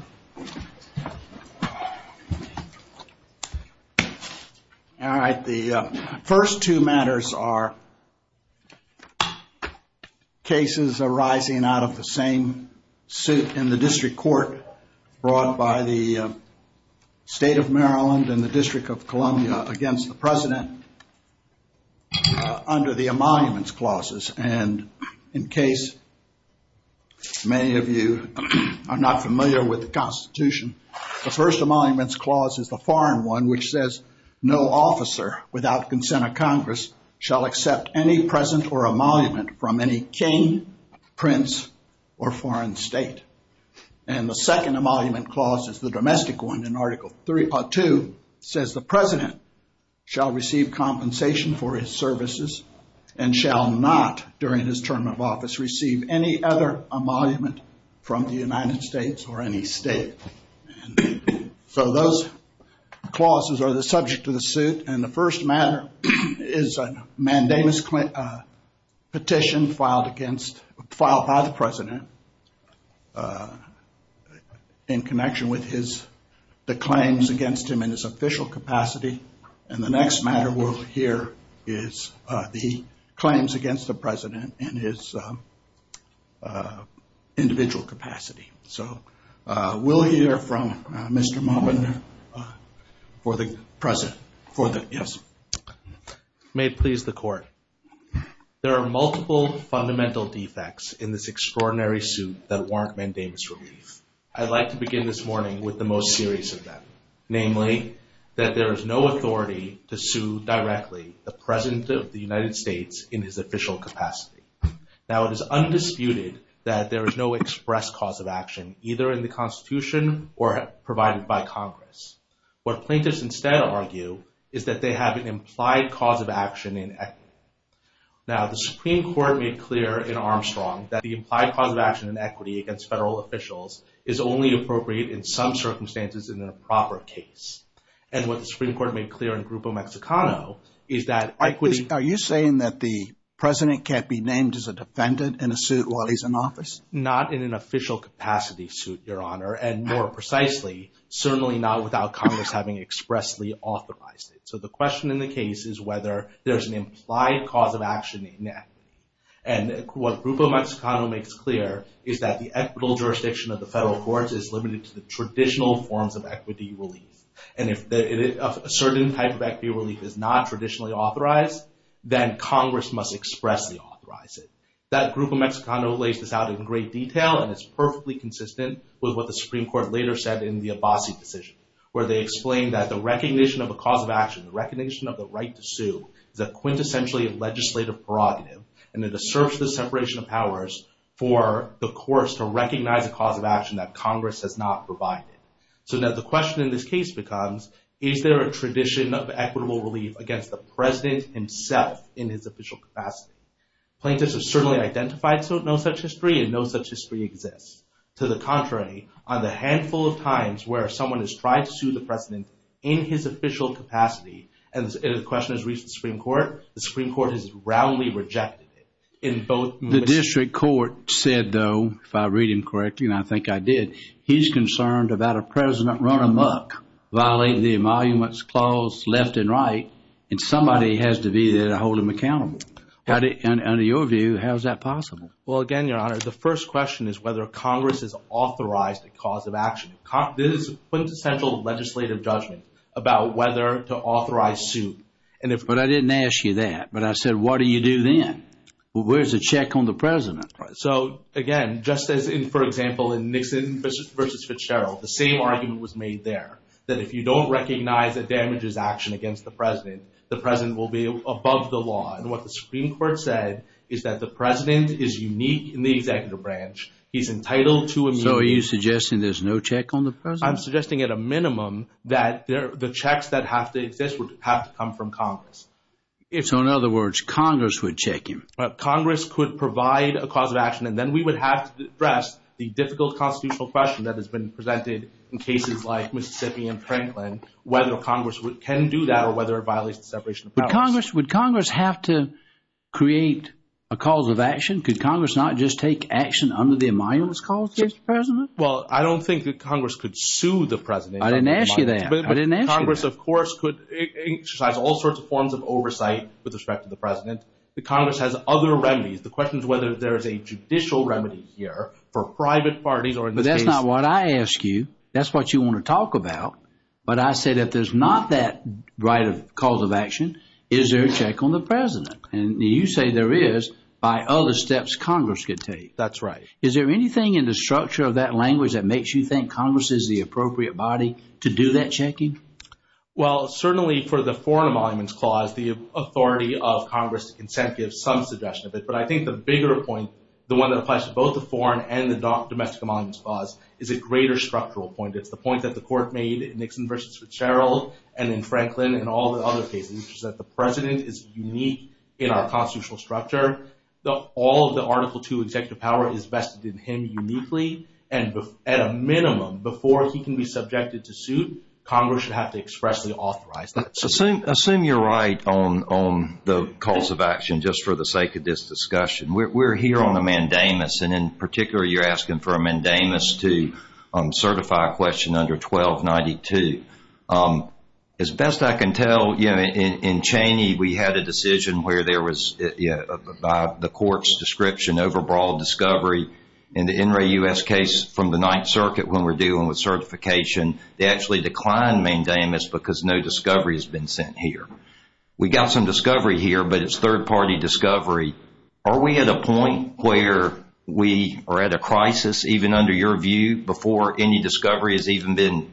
All right, the first two matters are cases arising out of the same suit in the District Court brought by the State of Maryland and the District of Columbia against the President under the emoluments clauses. And in case many of you are not familiar with the Constitution, the first emoluments clause is the foreign one, which says no officer without consent of Congress shall accept any present or emolument from any king, prince, or foreign state. And the second emolument clause is the domestic one in Article 2 says the President shall receive compensation for his services and shall not, during his term of office, receive any other emolument from the United States or any state. So those clauses are the subject of the suit. And the first matter is a mandamus petition filed against, filed by the President in connection with his, the claims against him in his official capacity. And the next matter we'll hear is the claims against the President in his individual capacity. So we'll hear from Mr. Maubin for the President, for the, yes. May it please the Court. There are multiple fundamental defects in this extraordinary suit that warrant mandamus relief. I'd like to begin this morning with the most serious of them, namely that there is no authority to sue directly the President of the United States in his official capacity. Now it is undisputed that there is no express cause of action either in the Constitution or provided by Congress. What plaintiffs instead argue is that they have an implied cause of action in equity. Now the Supreme Court made clear in Armstrong that the implied cause of action in equity against federal officials is only appropriate in some circumstances in a proper case. And what the Supreme Court made clear in Grupo Mexicano is that equity... Are you saying that the President can't be named as a defendant in a suit while he's in office? Not in an official capacity suit, Your Honor, and more precisely, certainly not without Congress having expressly authorized it. So the question in the case is whether there's an implied cause of action in equity. And what Grupo Mexicano makes clear is that the equitable jurisdiction of the federal courts is limited to the traditional forms of equity relief. And if a certain type of equity relief is not traditionally authorized, then Congress must expressly authorize it. That Grupo Mexicano lays this out in great detail, and it's perfectly consistent with what the Supreme Court later said in the Abbasi decision, where they explained that the recognition of a cause of action, the recognition of the right to sue, is a quintessentially legislative prerogative, and it asserts the separation of powers for the courts to recognize a cause of action that Congress has not provided. So now the question in this case becomes, is there a tradition of equitable relief against the President himself in his official capacity? Plaintiffs have certainly identified no such history, and no such history exists. To the contrary, on the handful of times where someone has tried to sue the President in his official capacity, and the question has reached the Supreme Court, the Supreme Court has roundly rejected it. The district court said, though, if I read him correctly, and I think I did, he's concerned about a President run amok, violating the Emoluments Clause left and right, and somebody has to be there to hold him accountable. Under your view, how is that possible? Well, again, Your Honor, the first question is whether Congress has authorized a cause of action. This is a quintessential legislative judgment about whether to authorize a suit. But I didn't ask you that, but I said, what do you do then? Where's the check on the President? So, again, just as in, for example, in Nixon v. Fitzgerald, the same argument was made there, that if you don't recognize that damage is action against the President, the President will be above the law. And what the Supreme Court said is that the President is unique in the executive branch. He's entitled to immunity. So, are you suggesting there's no check on the President? I'm suggesting at a minimum that the checks that have to exist would have to come from Congress. So, in other words, Congress would check him? Congress could provide a cause of action, and then we would have to address the difficult constitutional question that has been presented in cases like Mississippi and Franklin, whether Congress can do that or whether it violates the separation of powers. Would Congress have to create a cause of action? Could Congress not just take action under the amendments called, Mr. President? Well, I don't think that Congress could sue the President. I didn't ask you that. But Congress, of course, could exercise all sorts of forms of oversight with respect to the President. The Congress has other remedies. That's not what I asked you. That's what you want to talk about. But I said if there's not that right of cause of action, is there a check on the President? And you say there is by other steps Congress could take. That's right. Is there anything in the structure of that language that makes you think Congress is the appropriate body to do that checking? Well, certainly for the Foreign Monuments Clause, the authority of Congress to consent gives some suggestion of it. But I think the bigger point, the one that applies to both the Foreign and the Domestic Monuments Clause, is a greater structural point. It's the point that the Court made in Nixon v. Fitzgerald and in Franklin and all the other cases, which is that the President is unique in our constitutional structure. All of the Article II executive power is vested in him uniquely. And at a minimum, before he can be subjected to suit, Congress should have to expressly authorize that. Assume you're right on the cause of action, just for the sake of this discussion. We're here on a mandamus. And in particular, you're asking for a mandamus to certify a question under 1292. As best I can tell, in Cheney, we had a decision where there was, by the Court's description, overbroad discovery. In the Inouye U.S. case from the Ninth Circuit, when we're dealing with certification, they actually declined mandamus because no discovery has been sent here. We got some discovery here, but it's third-party discovery. Are we at a point where we are at a crisis, even under your view, before any discovery has even been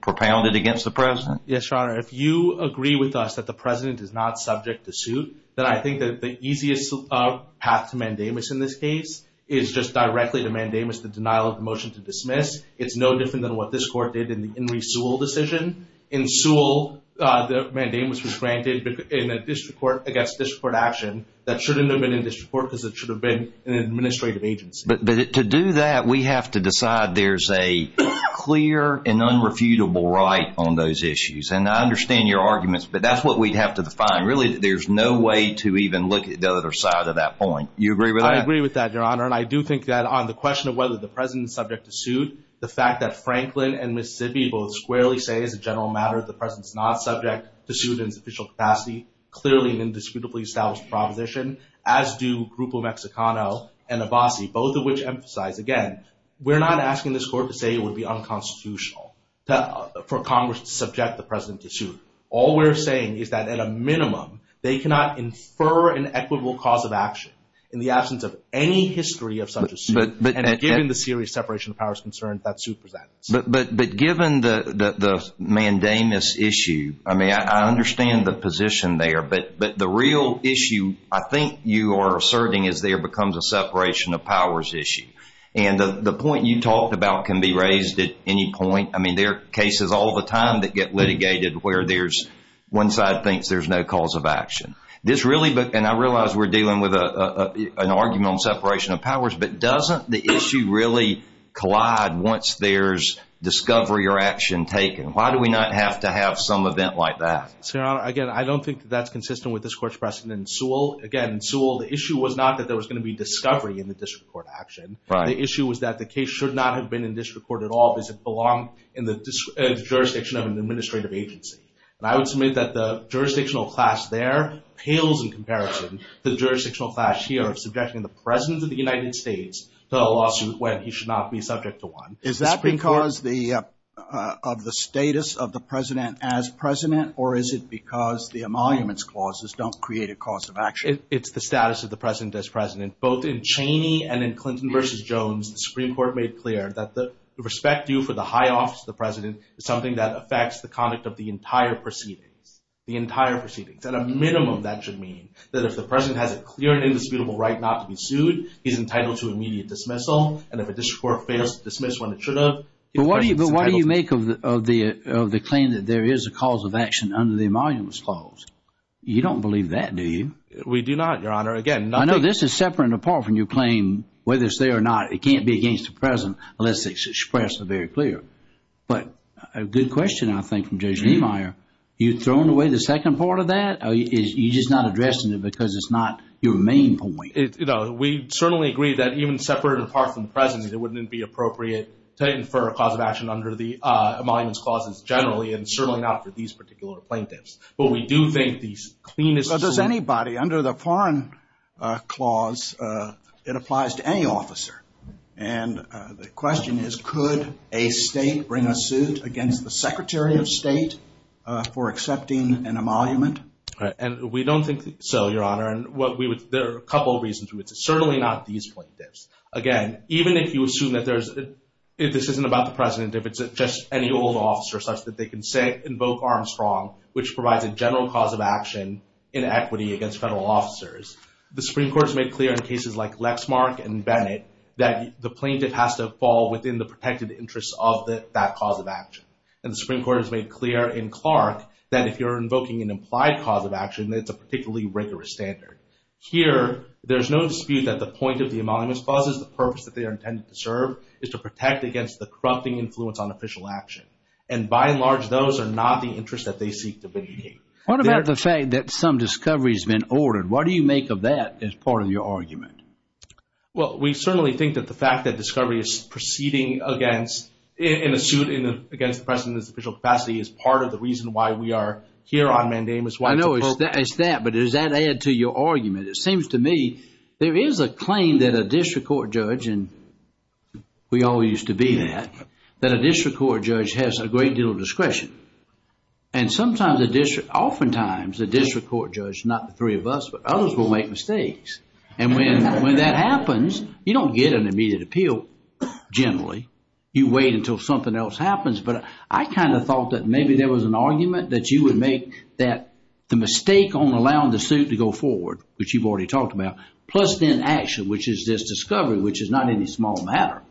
propounded against the President? Yes, Your Honor. If you agree with us that the President is not subject to suit, then I think that the easiest path to mandamus in this case is just directly to mandamus the denial of the motion to dismiss. It's no different than what this Court did in the Henry Sewell decision. In Sewell, the mandamus was granted in a district court against district court action that shouldn't have been in district court because it should have been an administrative agency. But to do that, we have to decide there's a clear and unrefutable right on those issues. And I understand your arguments, but that's what we'd have to define. Really, there's no way to even look at the other side of that point. You agree with that? I agree with that, Your Honor. And I do think that on the question of whether the President is subject to suit, the fact that Franklin and Mississippi both squarely say, as a general matter, the President's not subject to suit in its official capacity, clearly an indisputably established proposition, as do Grupo Mexicano and Abbasi, both of which emphasize, again, we're not asking this Court to say it would be unconstitutional for Congress to subject the President to suit. All we're saying is that, at a minimum, they cannot infer an equitable cause of action in the absence of any history of such a suit. And given the serious separation of powers concern, that suit presents. But given the mandamus issue, I mean, I understand the position there. But the real issue I think you are asserting is there becomes a separation of powers issue. And the point you talked about can be raised at any point. I mean, there are cases all the time that get litigated where there's one side thinks there's no cause of action. This really, and I realize we're dealing with an argument on separation of powers, but doesn't the issue really collide once there's discovery or action taken? Why do we not have to have some event like that? Senator, again, I don't think that's consistent with this Court's precedent in Sewell. Again, in Sewell, the issue was not that there was going to be discovery in the district court action. The issue was that the case should not have been in district court at all, because it belonged in the jurisdiction of an administrative agency. And I would submit that the jurisdictional class there pales in comparison to the jurisdictional class here of subjecting the President of the United States to a lawsuit when he should not be subject to one. Is that because of the status of the President as President, or is it because the emoluments clauses don't create a cause of action? It's the status of the President as President. Both in Cheney and in Clinton v. Jones, the Supreme Court made clear that the respect due for the high office of the President is something that affects the conduct of the entire proceedings. The entire proceedings. At a minimum, that should mean that if the President has a clear and indisputable right not to be sued, he's entitled to immediate dismissal. And if a district court fails to dismiss when it should have, the President is entitled to... But why do you make of the claim that there is a cause of action under the emoluments clause? You don't believe that, do you? We do not, Your Honor. Again, not... I know this is separate and apart from your claim, whether it's there or not. It can't be against the President unless it's expressed very clear. But a good question, I think, from Judge Niemeyer. You're throwing away the second part of that? You're just not addressing it because it's not your main point. We certainly agree that even separate and apart from the President, it wouldn't be appropriate to infer a cause of action under the emoluments clauses, generally, and certainly not for these particular plaintiffs. But we do think these cleanest... Does anybody under the foreign clause... It applies to any officer. And the question is, could a state bring a suit against the Secretary of State for accepting an emolument? And we don't think so, Your Honor. And there are a couple of reasons. Certainly not these plaintiffs. Again, even if you assume that there's... If this isn't about the President, if it's just any old officer such that they can invoke Armstrong, which provides a general cause of action in equity against federal officers. The Supreme Court has made clear in cases like Lexmark and Bennett that the plaintiff has to fall within the protected interests of that cause of action. And the Supreme Court has made clear in Clark that if you're invoking an implied cause of action, that's a particularly rigorous standard. Here, there's no dispute that the point of the emoluments clauses, the purpose that they are intended to serve, is to protect against the corrupting influence on official action. And by and large, those are not the interests that they seek to vindicate. What about the fact that some discovery has been ordered? What do you make of that as part of your argument? Well, we certainly think that the fact that discovery is proceeding against, in a suit against the President's official capacity, is part of the reason why we are here on mandamus. I know it's that, but does that add to your argument? It seems to me there is a claim that a district court judge, and we all used to be that, that a district court judge has a great deal of discretion. And sometimes, oftentimes, a district court judge, not the three of us, but others will make mistakes. And when that happens, you don't get an immediate appeal, generally. You wait until something else happens. But I kind of thought that maybe there was an argument that you would make that the mistake on allowing the suit to go forward, which you've already talked about, plus then action, which is this discovery, which is not any small matter,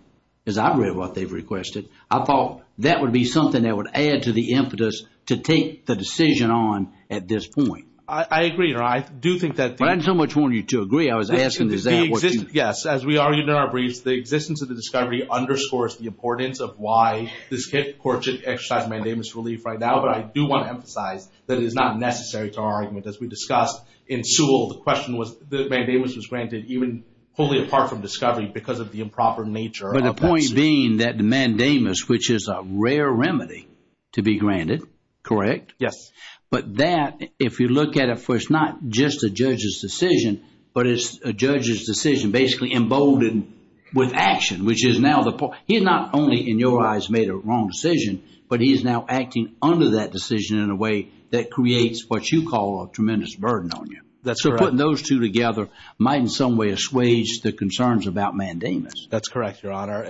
because I've read what they've requested. I thought that would be something that would add to the impetus to take the decision on at this point. I agree. I do think that... I didn't so much want you to agree. I was asking, is that what you... Yes, as we argued in our briefs, the existence of the discovery underscores the importance of why this court should exercise mandamus relief right now. But I do want to emphasize that it is not necessary to our argument. As we discussed in Sewell, the question was, the mandamus was granted even wholly apart from discovery because of the improper nature. But the point being that the mandamus, which is a rare remedy to be granted, correct? Yes. But that, if you look at it, for it's not just a judge's decision, but it's a judge's decision basically emboldened with action, which is now the point... He's not only, in your eyes, made a wrong decision, but he's now acting under that decision in a way that creates what you call a tremendous burden on you. That's correct. So putting those two together might in some way assuage the concerns about mandamus. That's correct, Your Honor.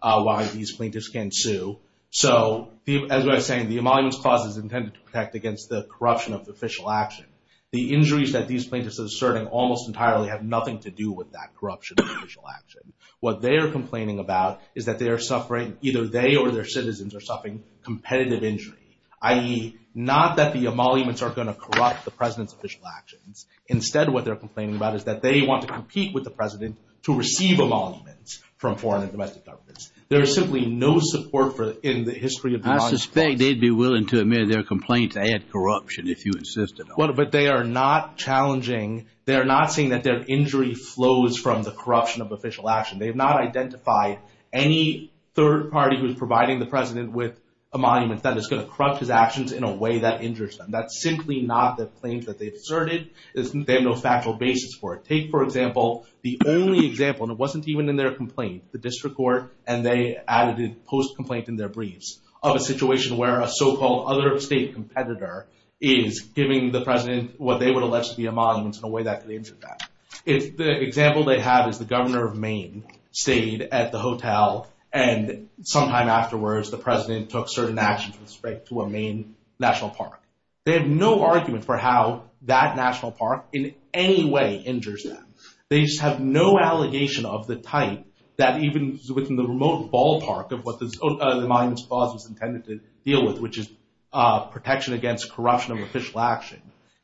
about why these plaintiffs can't sue. So as I was saying, the emoluments clause is intended to protect against the corruption of official action. The injuries that these plaintiffs are asserting almost entirely have nothing to do with that corruption of official action. What they are complaining about is that they are suffering, either they or their citizens are suffering competitive injury, i.e. not that the emoluments are going to corrupt the president's official actions. Instead, what they're complaining about is that they want to compete with the president to receive emoluments from foreign and domestic governments. There is simply no support in the history of the emoluments clause. I suspect they'd be willing to admit their complaints add corruption if you insisted on it. But they are not challenging, they are not saying that their injury flows from the corruption of official action. They have not identified any third party who is providing the president with a monument that is going to corrupt his actions in a way that injures them. That's simply not the claims that they've asserted. They have no factual basis for it. Take, for example, the only example, and it wasn't even in their complaint, the district court, and they added it post-complaint in their briefs, of a situation where a so-called other state competitor is giving the president what they would allege to be emoluments in a way that could injure them. The example they have is the governor of Maine stayed at the hotel and sometime afterwards the president took certain actions with respect to a Maine national park. They have no argument for how that national park in any way injures them. They have no allegation of the type that even within the remote ballpark of what the monument's cause was intended to deal with, which is protection against corruption of official action.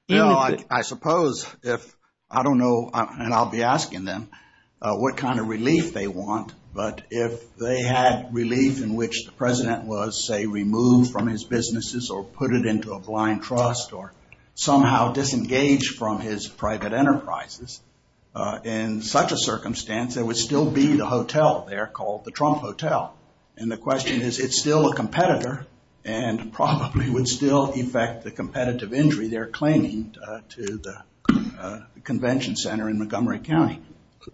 You know, I suppose if, I don't know, and I'll be asking them what kind of relief they want, but if they had relief in which the president was, say, removed from his businesses or put it into a blind trust or somehow disengaged from his private enterprises, in such a circumstance there would still be the hotel there called the Trump Hotel. And the question is, it's still a competitor and probably would still affect the competitive injury they're claiming to the convention center in Montgomery County.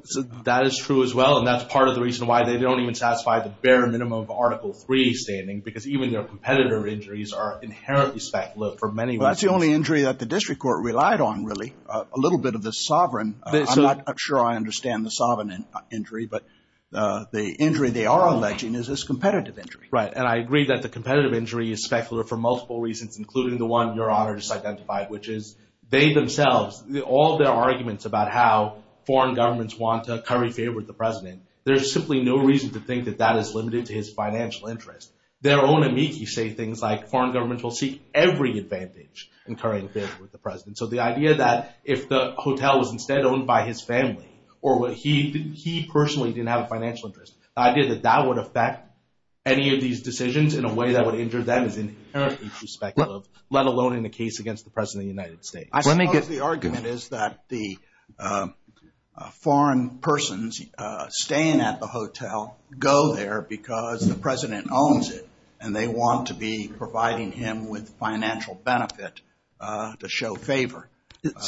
So that is true as well, and that's part of the reason why they don't even satisfy the bare minimum of Article III standing, because even their competitor injuries are inherently spec lit for many reasons. That's the only injury that the district court relied on, really. A little bit of the sovereign, I'm not sure I understand the sovereign injury, but the injury they are alleging is this competitive injury. Right, and I agree that the competitive injury is spec lit for multiple reasons, including the one Your Honor just identified, which is they themselves, all their arguments about how foreign governments want to curry favor with the president, there's simply no reason to think that that is limited to his financial interest. Their own amici say things like foreign governments will seek every advantage in currying favor with the president. So the idea that if the hotel was instead owned by his family, or he personally didn't have a financial interest, the idea that that would affect any of these decisions in a way that would injure them is inherently spec lit, let alone in the case against the president of the United States. I suppose the argument is that the foreign persons staying at the hotel go there because the president owns it, and they want to be providing him with financial benefit to show favor. That's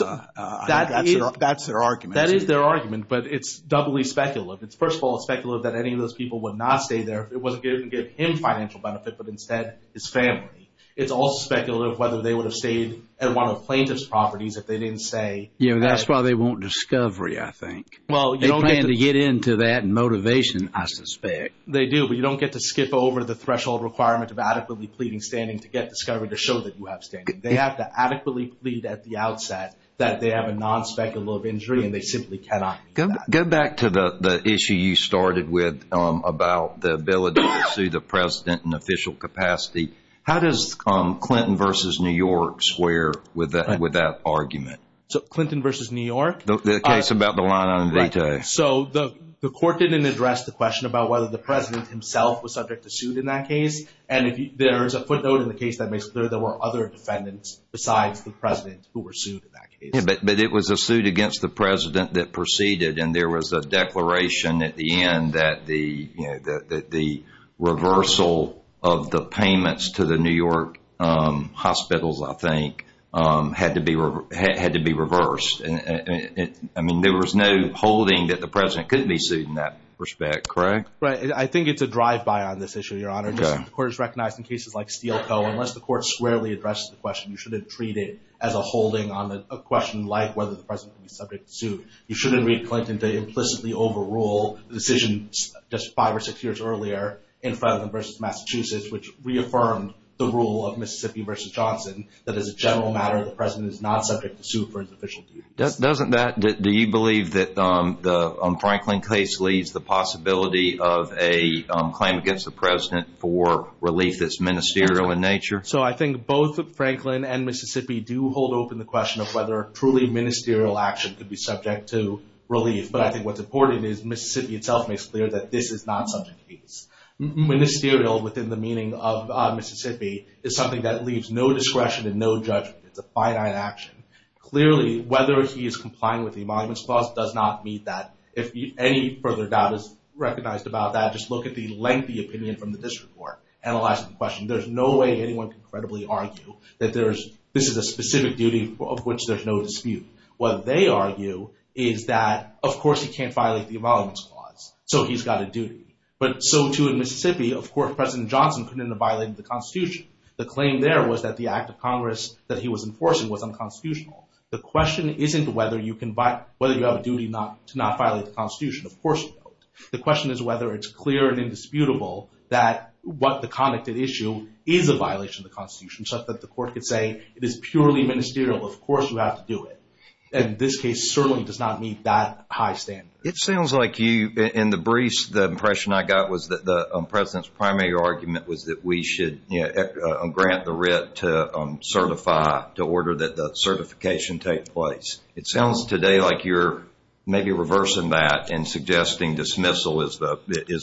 their argument. That is their argument, but it's doubly spec lit. It's first of all spec lit that any of those people would not stay there if it wasn't going to give him financial benefit, but instead his family. It's also spec lit of whether they would have stayed at one of the plaintiff's properties if they didn't stay. You know, that's why they want discovery, I think. Well, you don't get to get into that motivation, I suspect. They do, but you don't get to skip over the threshold requirement of adequately pleading standing to get discovery to show that you have standing. They have to adequately plead at the outset that they have a non-speculative injury, and they simply cannot. Go back to the issue you started with about the ability to sue the president in official capacity. How does Clinton versus New York square with that argument? So Clinton versus New York? The case about the line item veto. So the court didn't address the question about whether the president himself was subject to suit in that case, and there is a footnote in the case that makes clear there were other defendants besides the president who were sued in that case. But it was a suit against the president that proceeded, and there was a declaration at the end that the reversal of the payments to the New York hospitals, I think, had to be reversed. I mean, there was no holding that the president couldn't be sued in that respect, correct? I think it's a drive-by on this issue, Your Honor. The court has recognized in cases like Steele Co., unless the court squarely addressed the question, you shouldn't treat it as a holding on a question like whether the president would be subject to suit. You shouldn't read Clinton to implicitly overrule the decision just five or six years earlier in Franklin versus Massachusetts, which reaffirmed the rule of Mississippi versus Johnson that as a general matter, the president is not subject to suit for his official duty. Doesn't that, do you believe that the Franklin case leaves the possibility of a claim against the president for relief that's ministerial in nature? So I think both Franklin and Mississippi do hold open the question of whether truly ministerial action could be subject to relief. But I think what's important is Mississippi itself makes clear that this is not such a case. Ministerial, within the meaning of Mississippi, is something that leaves no discretion and no judgment. It's a finite action. Clearly, whether he is complying with the Emoluments Clause does not meet that. If any further doubt is recognized about that, just look at the lengthy opinion from the district court analyzing the question. There's no way anyone can credibly argue that this is a specific duty of which there's no dispute. What they argue is that, of course, he can't violate the Emoluments Clause, so he's got a duty. But so too in Mississippi, of course, President Johnson couldn't have violated the Constitution. The claim there was that the act of Congress that he was enforcing was unconstitutional. The question isn't whether you have a duty to not violate the Constitution. Of course you don't. The question is whether it's clear and indisputable that what the conduct at issue is a violation of the Constitution, such that the court could say it is purely ministerial. Of course you have to do it. And this case certainly does not meet that high standard. It sounds like you, in the briefs, the impression I got was that the President's primary argument was that we should grant the writ to certify, to order that the certification take place. It sounds today like you're maybe reversing that and suggesting dismissal is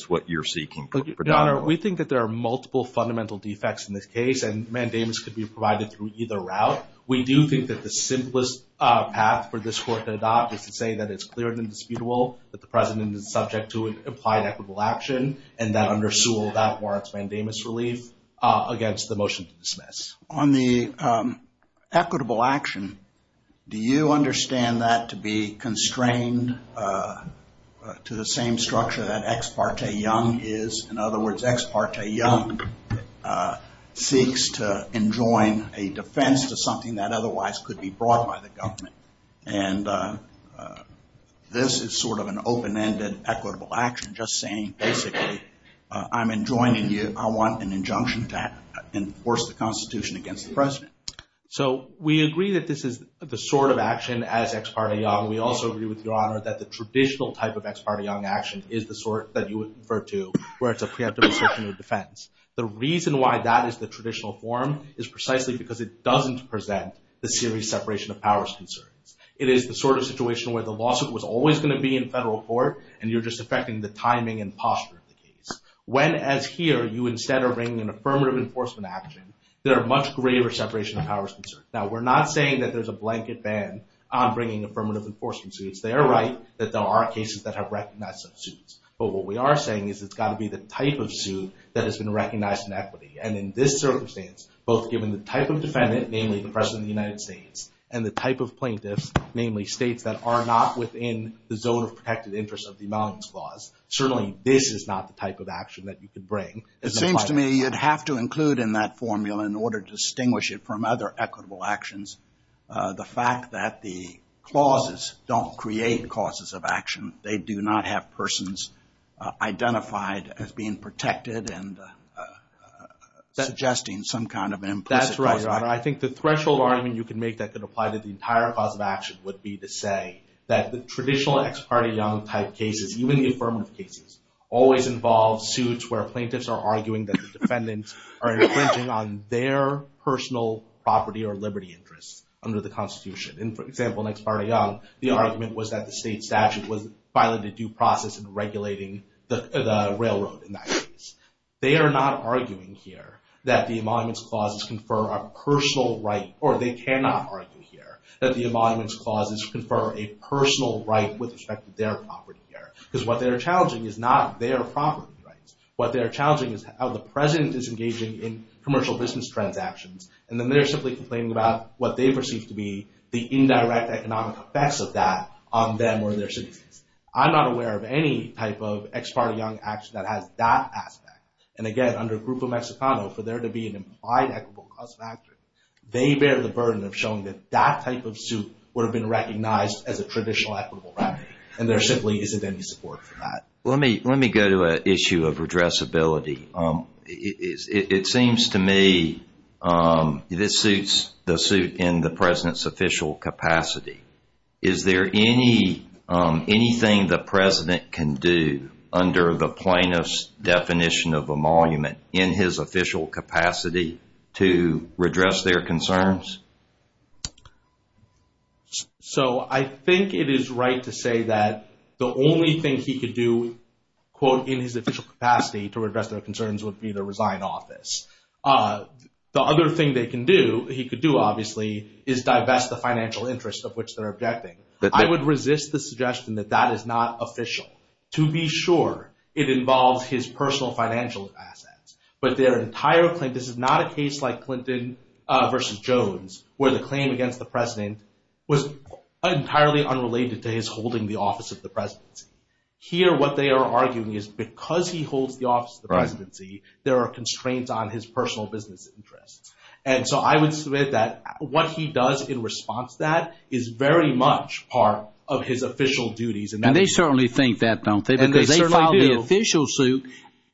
what you're seeking predominantly. We think that there are multiple fundamental defects in this case, and mandamus could be provided through either route. We do think that the simplest path for this court to adopt is to say that it's clear and indisputable that the President is subject to an implied equitable action, and that under Sewell, that warrants mandamus relief against the motion to dismiss. On the equitable action, do you understand that to be constrained to the same structure that Ex parte Young is? In other words, Ex parte Young seeks to enjoin a defense to something that otherwise could be brought by the government. And this is sort of an open-ended equitable action, just saying basically, I'm enjoining you. I want an injunction to enforce the Constitution against the President. So we agree that this is the sort of action as Ex parte Young. We also agree with Your Honor that the traditional type of Ex parte Young action is the sort that you would refer to where it's a preemptive assertion of defense. The reason why that is the traditional form is precisely because it doesn't present the serious separation of powers concerns. It is the sort of situation where the lawsuit and you're just affecting the timing and posture of the case. When, as here, you instead are bringing an affirmative enforcement action, there are much greater separation of powers concerns. Now, we're not saying that there's a blanket ban on bringing affirmative enforcement suits. They are right that there are cases that have recognized those suits. But what we are saying is it's got to be the type of suit that has been recognized in equity. And in this circumstance, both given the type of defendant, namely the President of the United States, and the type of plaintiffs, namely states that are not within the zone of protected interest of the Emoluments Clause, certainly this is not the type of action that you could bring. It seems to me you'd have to include in that formula in order to distinguish it from other equitable actions the fact that the clauses don't create causes of action. They do not have persons identified as being protected and suggesting some kind of implicit cause. That's right, Your Honor. I think the threshold argument you can make that could apply to the entire cause of action would be to say that the traditional ex parte type cases, even the affirmative cases, always involve suits where plaintiffs are arguing that the defendants are infringing on their personal property or liberty interests under the Constitution. And for example, in ex parte, the argument was that the state statute was violating due process in regulating the railroad in that case. They are not arguing here that the Emoluments Clauses confer a personal right, or they cannot argue here that the Emoluments Clauses confer a personal right with respect to their property here. Because what they're challenging is not their property rights. What they're challenging is how the president is engaging in commercial business transactions, and then they're simply complaining about what they perceive to be the indirect economic effects of that on them or their citizens. I'm not aware of any type of ex parte young action that has that aspect. And again, under Grupo Mexicano, for there to be an implied equitable cause of action, they bear the burden of showing that that type of suit would have been recognized as a traditional equitable remedy. And there simply isn't any support for that. Let me go to an issue of redressability. It seems to me this suits the suit in the president's official capacity. Is there anything the president can do under the plaintiff's definition of emolument in his official capacity to redress their concerns? So, I think it is right to say that the only thing he could do, quote, in his official capacity to redress their concerns would be the resign office. The other thing they can do, he could do obviously, is divest the financial interest of which they're objecting. I would resist the suggestion that that is not official. To be sure, it involves his personal financial assets. But their entire plaintiff's, this is not a case like Clinton versus Jones, where the claim against the president was entirely unrelated to his holding the office of the presidency. Here, what they are arguing is because he holds the office of the presidency, there are constraints on his personal business interests. And so, I would submit that what he does in response to that is very much part of his official duties. And they certainly think that, don't they? Because they filed the official suit,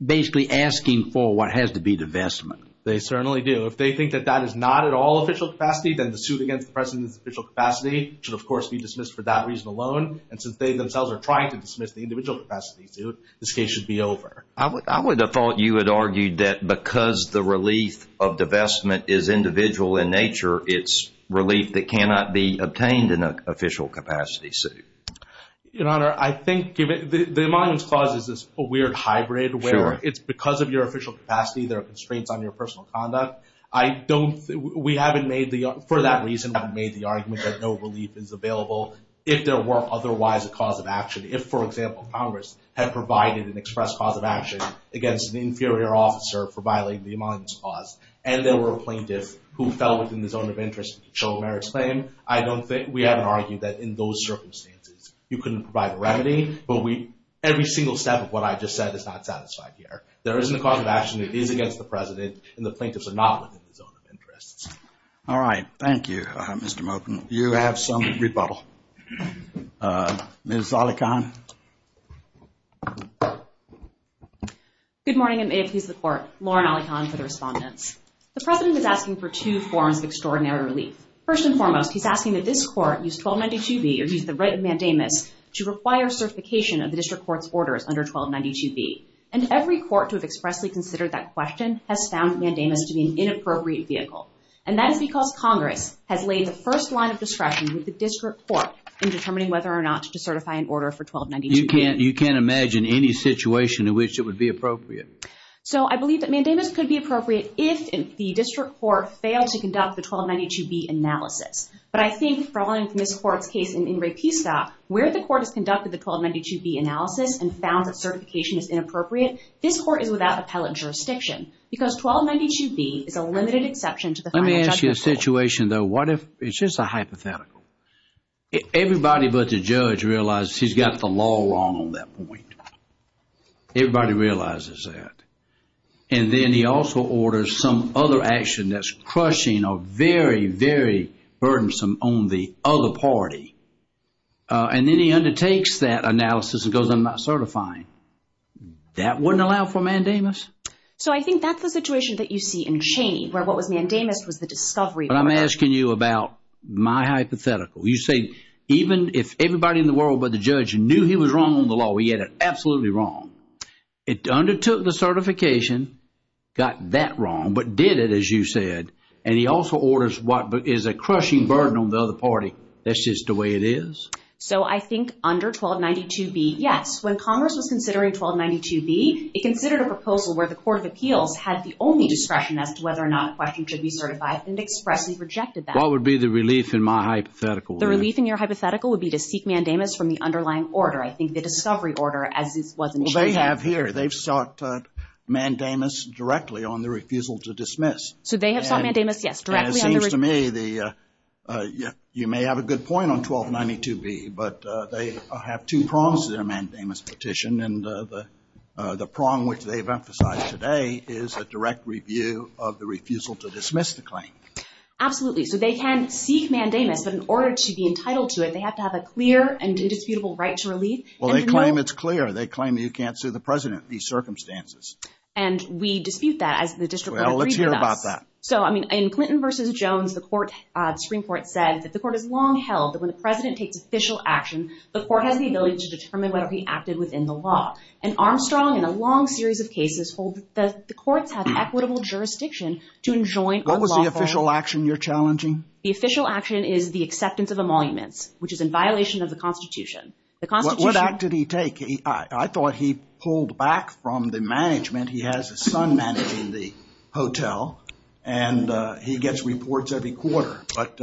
basically asking for what has to be divestment. They certainly do. If they think that that is not at all official capacity, then the suit against the president's official capacity should, of course, be dismissed for that reason alone. And since they themselves are trying to dismiss the individual capacity suit, this case should be over. I would have thought you had argued that because the relief of divestment is individual in nature, it's relief that cannot be obtained in an official capacity suit. Your Honor, I think the Emoluments Clause is this weird hybrid where it's because of your official capacity, there are constraints on your personal conduct. For that reason, we haven't made the argument that no relief is available if there were otherwise a cause of action. If, for example, Congress had provided an express cause of action against an inferior officer for violating the Emoluments Clause and there were plaintiffs who fell within the zone of interest in controlling Merrick's claim, we haven't argued that in those circumstances. You couldn't provide a remedy, but every single step of what I just said is not satisfied here. There isn't a cause of action. It is against the President and the plaintiffs are not within the zone of interest. All right. Thank you, Mr. Moten. You have some rebuttal. Ms. Alikhan. Good morning and may it please the Court. Lauren Alikhan for the respondents. The President is asking for two forms of extraordinary relief. First and foremost, he's asking that this Court use 1292B or use the right of mandamus to require certification of the District Court's orders under 1292B and every Court to have expressly considered that question has found mandamus to be an inappropriate vehicle and that is because Congress has laid the first line of discretion with the District Court in determining whether or not to decertify an order for 1292B. You can't imagine any situation in which it would be appropriate. So I believe that mandamus could be appropriate if the District Court failed to conduct the 1292B analysis, but I think following this Court's case in Enriquezca, where the Court has conducted the 1292B analysis and found that certification is inappropriate, this Court is without appellate jurisdiction because 1292B is a limited exception to the final judgment. Let me ask you a situation though. What if it's just a hypothetical? Everybody but the judge realizes he's got the law wrong on that point. Everybody realizes that. And then he also orders some other action that's crushing or very, very burdensome on the other party. And then he undertakes that analysis and goes, I'm not certifying. That wouldn't allow for mandamus. So I think that's the situation that you see in Cheney, where what was mandamus was the discovery. But I'm asking you about my hypothetical. You say even if everybody in the world but the judge knew he was wrong on the law, he had it absolutely wrong. It undertook the certification, got that wrong, but did it, as you said. And he also orders what is a crushing burden on the other party. That's just the way it is. So I think under 1292B, yes. When Congress was considering 1292B, it considered a proposal where the Court of Appeals had the only discretion as to whether or not a question should be certified and expressly rejected that. What would be the relief in my hypothetical? The relief in your hypothetical would be to seek mandamus from the underlying order. I think the discovery order, as this was in Cheney. Well, they have here. They've sought mandamus directly on the refusal to dismiss. So they have sought mandamus, yes. And it seems to me, you may have a good point on 1292B, but they have two promises in a mandamus petition. And the prong, which they've emphasized today, is a direct review of the refusal to dismiss the claim. Absolutely. So they can seek mandamus, but in order to be entitled to it, they have to have a clear and indisputable right to relief. Well, they claim it's clear. They claim you can't sue the president in these circumstances. And we dispute that as the district. Well, let's hear about that. So, I mean, in Clinton versus Jones, the Supreme Court said that the court has long held that when the president takes official action, the court has the ability to determine whether he acted within the law. And Armstrong, in a long series of cases, hold that the courts have equitable jurisdiction to enjoin unlawful- What was the official action you're challenging? The official action is the acceptance of emoluments, which is in violation of the Constitution. The Constitution- What act did he take? I thought he pulled back from the management. He has his son managing the hotel and he gets reports every quarter. But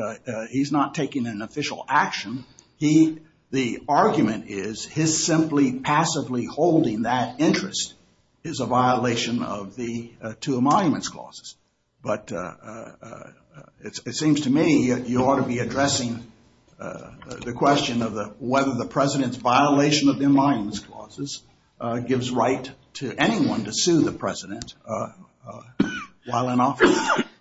he's not taking an official action. He- The argument is his simply passively holding that interest is a violation of the two emoluments clauses. But it seems to me you ought to be addressing the question of whether the president's violation of the emoluments clauses gives right to anyone to sue the president while in office.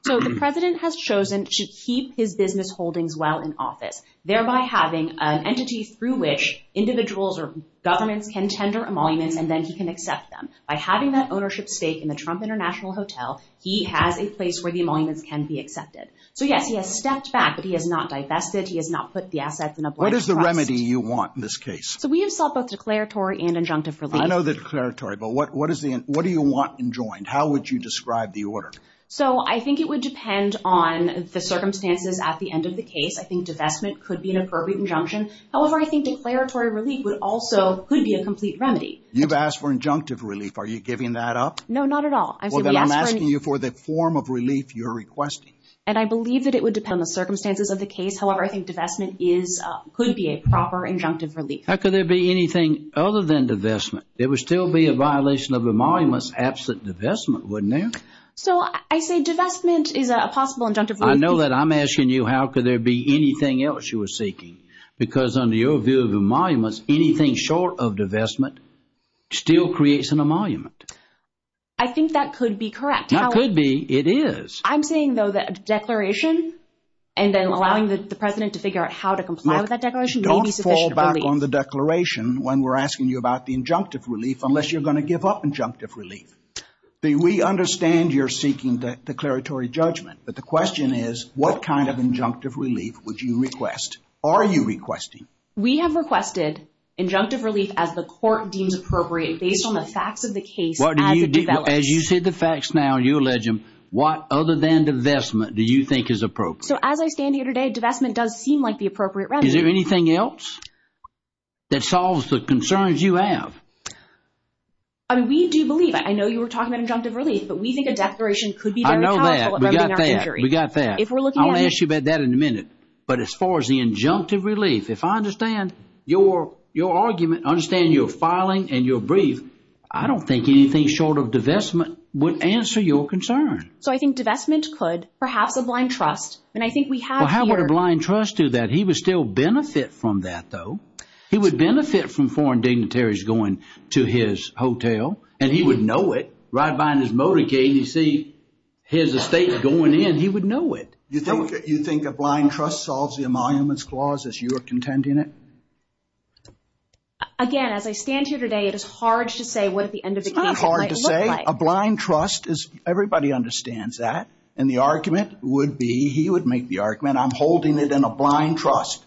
So the president has chosen to keep his business holdings while in office, thereby having an entity through which individuals or governments can tender emoluments and then he can accept them. By having that ownership stake in the Trump International Hotel, he has a place where the emoluments can be accepted. So yes, he has stepped back, but he has not divested. He has not put the assets in a- What is the remedy you want in this case? So we have sought both declaratory and injunctive relief. I know the declaratory, but what is the- What do you want enjoined? How would you describe the order? So I think it would depend on the circumstances at the end of the case. I think divestment could be an appropriate injunction. However, I think declaratory relief would also- could be a complete remedy. You've asked for injunctive relief. Are you giving that up? No, not at all. Well, then I'm asking you for the form of relief you're requesting. And I believe that it would depend on the circumstances of the case. However, I think divestment is- could be a proper injunctive relief. How could there be anything other than divestment? There would still be a violation of emoluments absent divestment, wouldn't there? So I say divestment is a possible injunctive relief. I know that I'm asking you, how could there be anything else you were seeking? Because under your view of emoluments, anything short of divestment still creates an emolument. I think that could be correct. That could be. It is. I'm saying, though, that a declaration and then allowing the president to figure out how to comply with that declaration may be sufficient relief. Look, don't fall back on the declaration when we're asking you about the injunctive relief unless you're going to give up injunctive relief. See, we understand you're seeking declaratory judgment. But the question is what kind of injunctive relief would you request? Are you requesting? We have requested injunctive relief as the court deems appropriate based on the facts of the case. As you see the facts now, you allege them. What other than divestment do you think is appropriate? So as I stand here today, divestment does seem like the appropriate remedy. Is there anything else that solves the concerns you have? I mean, we do believe, I know you were talking about injunctive relief, but we think a declaration could be very powerful at remedying our injury. We got that. I'll ask you about that in a minute. But as far as the injunctive relief, if I understand your argument, understand your filing and your brief, I don't think anything short of divestment would answer your concern. So I think divestment could, perhaps a blind trust. And I think we have here- Well, how would a blind trust do that? He would still benefit from that though. He would benefit from foreign dignitaries going to his hotel and he would know it. Right behind his motorcade, you see his estate going in, he would know it. You think a blind trust solves the emoluments clause as you are contending it? Again, as I stand here today, it is hard to say what at the end of the case- It's not hard to say. A blind trust is, everybody understands that. And the argument would be, he would make the argument, I'm holding it in a blind trust.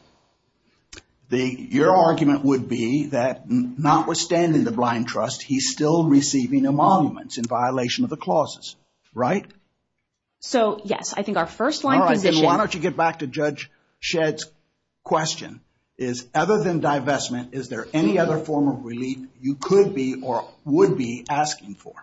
Your argument would be that notwithstanding the blind trust, he's still receiving emoluments in violation of the clauses, right? So yes, I think our first line position- Why don't you get back to Judge Shedd's question, is other than divestment, is there any other form of relief you could be or would be asking for?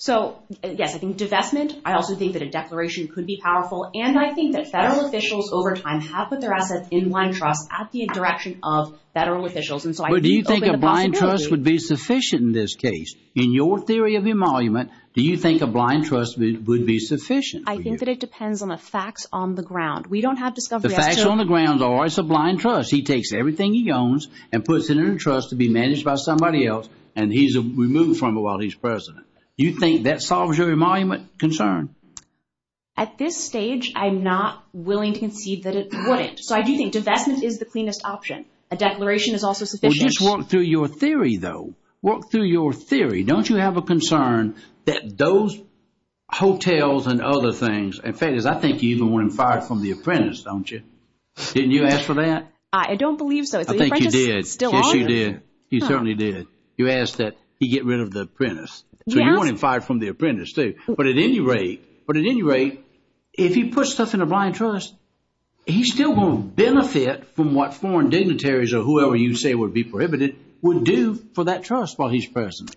So yes, I think divestment, I also think that a declaration could be powerful. And I think that federal officials over time have put their assets in blind trust at the direction of federal officials. And so I think- Do you think a blind trust would be sufficient in this case? In your theory of emolument, do you think a blind trust would be sufficient? I think that it depends on the facts on the ground. We don't have discovery- The facts on the ground are it's a blind trust. He takes everything he owns and puts it in trust to be managed by somebody else. And he's removed from it while he's president. Do you think that solves your emolument concern? At this stage, I'm not willing to concede that it wouldn't. So I do think divestment is the cleanest option. A declaration is also sufficient. Well, just walk through your theory, though. Walk through your theory. Don't you have a concern that those hotels and other things- And the fact is, I think you even want him fired from The Apprentice, don't you? Didn't you ask for that? I don't believe so. I think you did. Yes, you did. You certainly did. You asked that he get rid of The Apprentice. So you want him fired from The Apprentice, too. But at any rate, but at any rate, if he puts stuff in a blind trust, he still won't benefit from what foreign dignitaries or whoever you say would be prohibited would do for that trust while he's president.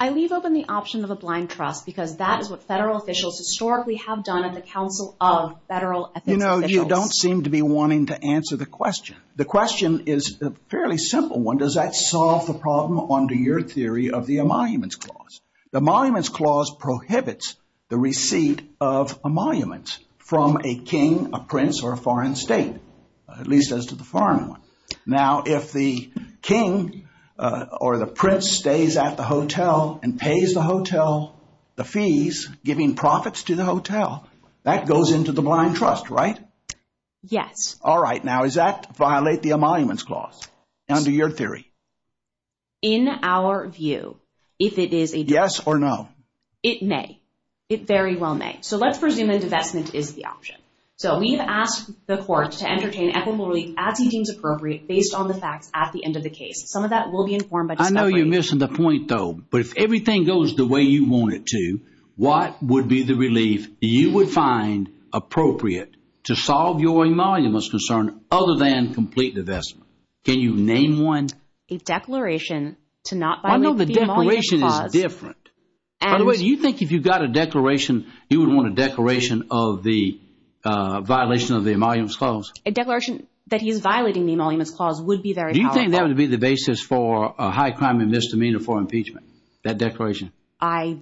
I leave open the option of a blind trust because that is what federal officials historically have done at the Council of Federal Ethics Officials. You know, you don't seem to be wanting to answer the question. The question is a fairly simple one. Does that solve the problem under your theory of the Emoluments Clause? The Emoluments Clause prohibits the receipt of emoluments from a king, a prince, or a foreign state, at least as to the foreign one. Now, if the king or the prince stays at the hotel and pays the hotel the fees, giving profits to the hotel, that goes into the blind trust, right? Yes. All right. Now, is that violate the Emoluments Clause under your theory? In our view, if it is a... Yes or no? It may. It very well may. So let's presume a divestment is the option. So we've asked the court to entertain equitable relief as he deems appropriate based on the facts at the end of the case. Some of that will be informed... I know you're missing the point though, but if everything goes the way you want it to, what would be the relief you would find appropriate to solve your emoluments concern other than complete divestment? Can you name one? A declaration to not violate the Emoluments Clause. I know the declaration is different. By the way, do you think if you got a declaration, you would want a declaration of the violation of the Emoluments Clause? A declaration that he's violating the Emoluments Clause would be very powerful. Do you think that would be the basis for a high crime and misdemeanor for impeachment? That declaration. I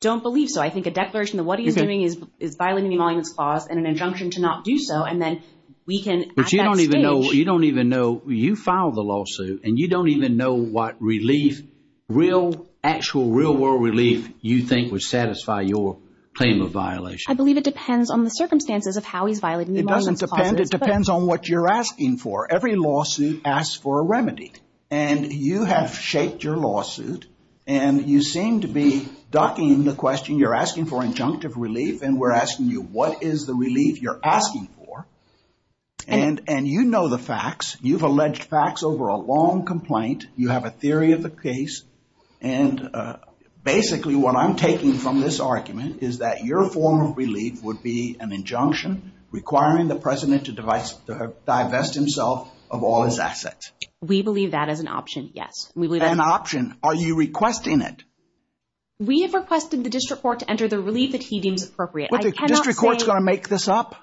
don't believe so. I think a declaration that what he's doing is violating the Emoluments Clause and an injunction to not do so. And then we can... But you don't even know, you don't even know, you filed the lawsuit and you don't even know what relief, real, actual, real world relief you think would satisfy your claim of violation. I believe it depends on the circumstances of how he's violating the Emoluments Clause. It depends on what you're asking for. Every lawsuit asks for a remedy and you have shaped your lawsuit and you seem to be ducking the question you're asking for injunctive relief and we're asking you what is the relief you're asking for? And you know the facts, you've alleged facts over a long complaint, you have a theory of the case and basically what I'm taking from this argument is that your form of relief would be an injunction requiring the president to divest himself of all his assets. We believe that is an option, yes. We believe that's an option. Are you requesting it? We have requested the district court to enter the relief that he deems appropriate. But the district court is going to make this up?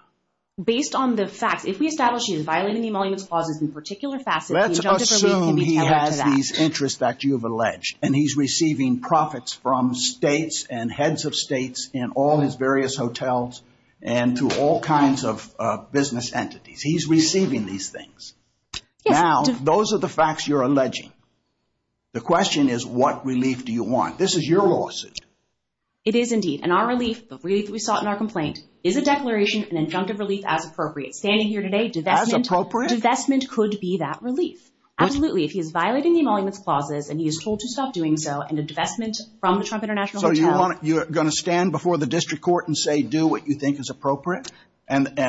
Based on the facts, if we establish he's violating the Emoluments Clause in a particular facet, the injunction can be tailored to that. Let's assume he has these interests that you've alleged and he's receiving profits from states and heads of states in all his various hotels and to all kinds of business entities. He's receiving these things. Now, those are the facts you're alleging. The question is, what relief do you want? This is your lawsuit. It is indeed. And our relief, the relief that we sought in our complaint, is a declaration, an injunctive relief as appropriate. Standing here today, divestment could be that relief. Absolutely. If he is violating the Emoluments Clauses and he is told to stop doing so and a divestment from the Trump International Hotel. You're going to stand before the district court and say, do what you think is appropriate? And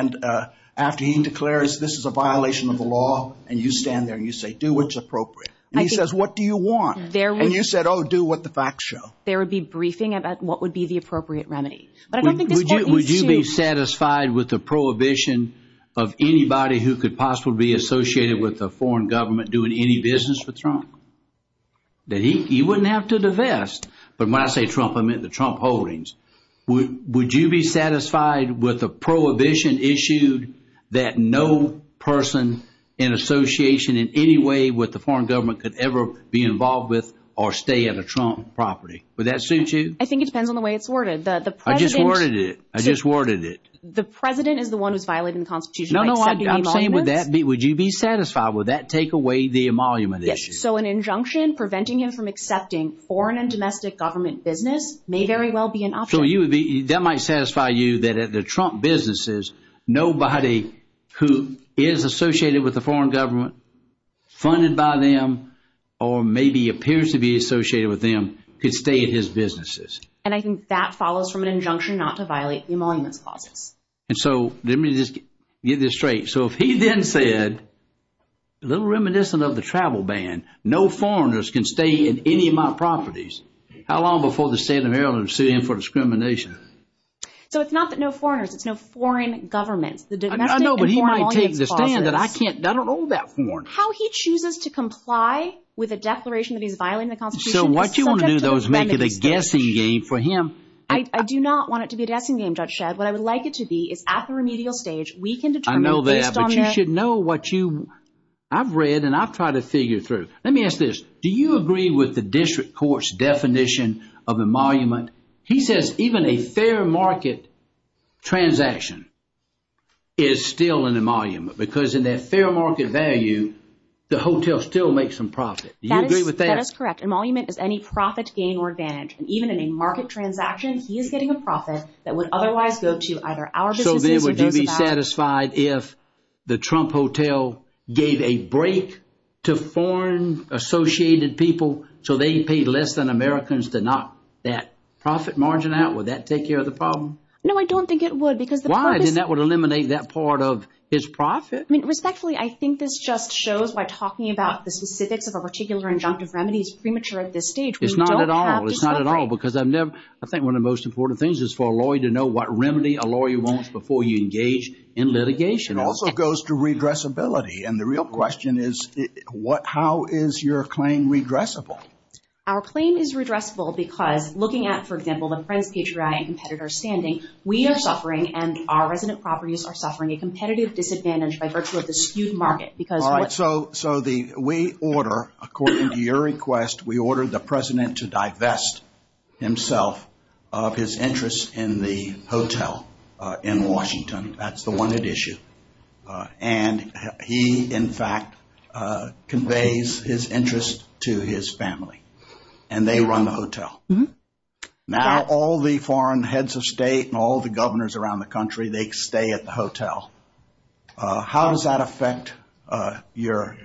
after he declares this is a violation of the law and you stand there and you say, do what's appropriate. He says, what do you want? And you said, oh, do what the facts show. There would be briefing about what would be the appropriate remedy. But I don't think this court needs to- Would you be satisfied with the prohibition of anybody who could possibly be associated with a foreign government doing any business with Trump? He wouldn't have to divest. But when I say Trump, I meant the Trump holdings. Would you be satisfied with a prohibition issued that no person in association in any way with the foreign government could ever be involved with or stay at a Trump property? Would that suit you? I think it depends on the way it's worded. I just worded it. I just worded it. The president is the one who's violating the Constitution. No, no, I'm saying with that, would you be satisfied with that take away the emolument issue? So an injunction preventing him from accepting foreign and domestic government business may very well be an option. So that might satisfy you that at the Trump businesses, nobody who is associated with the foreign government funded by them or maybe appears to be associated with them could stay at his businesses. And I think that follows from an injunction not to violate the emoluments clauses. And so let me just get this straight. So if he then said, a little reminiscent of the travel ban, no foreigners can stay in any of my properties. How long before the state of Maryland sue him for discrimination? So it's not that no foreigners, it's no foreign governments. The domestic and foreign emoluments clauses. I don't own that foreign. How he chooses to comply with a declaration that he's violating the constitution. So what you want to do though is make it a guessing game for him. I do not want it to be a guessing game, Judge Shedd. What I would like it to be is at the remedial stage, we can determine. I know that, but you should know what you, I've read and I've tried to figure through. Let me ask this. Do you agree with the district court's definition of emolument? He says even a fair market transaction is still an emolument because in that fair market value, the hotel still makes some profit. Do you agree with that? That is correct. Emolument is any profit, gain or advantage. And even in a market transaction, he is getting a profit that would otherwise go to either our businesses. So then would you be satisfied if the Trump hotel gave a break to foreign associated people so they paid less than Americans to knock that profit margin out? Would that take care of the problem? No, I don't think it would because the purpose- Why? Then that would eliminate that part of his profit. Respectfully, I think this just shows by talking about the specifics of a particular injunctive remedy is premature at this stage. It's not at all. It's not at all because I've never- I think one of the most important things is for a lawyer to know what remedy a lawyer wants before you engage in litigation. It also goes to redressability. And the real question is how is your claim redressable? Our claim is redressable because looking at, for example, the friends, patriotic competitors standing, we are suffering and our resident properties are suffering a competitive disadvantage by virtue of the skewed market because- All right. So we order, according to your request, we ordered the president to divest himself of his interest in the hotel in Washington. That's the one at issue. And he, in fact, conveys his interest to his family Now, all the foreign heads of state and all the governors around the country, they stay at the hotel. How does that affect your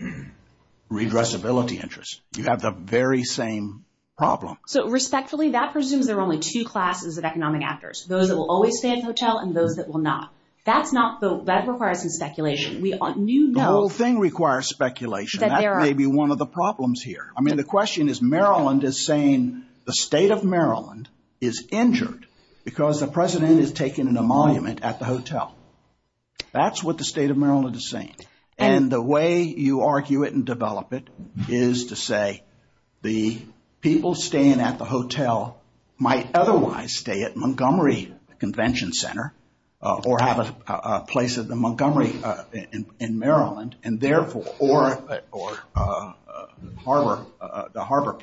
redressability interest? You have the very same problem. So respectfully, that presumes there are only two classes of economic actors, those that will always stay at the hotel and those that will not. That's not the- that requires some speculation. We knew- The whole thing requires speculation. That may be one I mean, the question is Maryland is saying the state of Maryland is injured because the president is taken in a monument at the hotel. That's what the state of Maryland is saying. And the way you argue it and develop it is to say the people staying at the hotel might otherwise stay at Montgomery Convention Center or have a place at the Montgomery in Maryland. And therefore, or- or Harbor, the Harbor.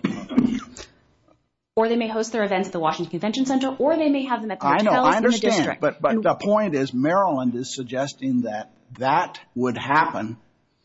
Or they may host their events at the Washington Convention Center or they may have them at the hotel in the district. But the point is Maryland is suggesting that that would happen,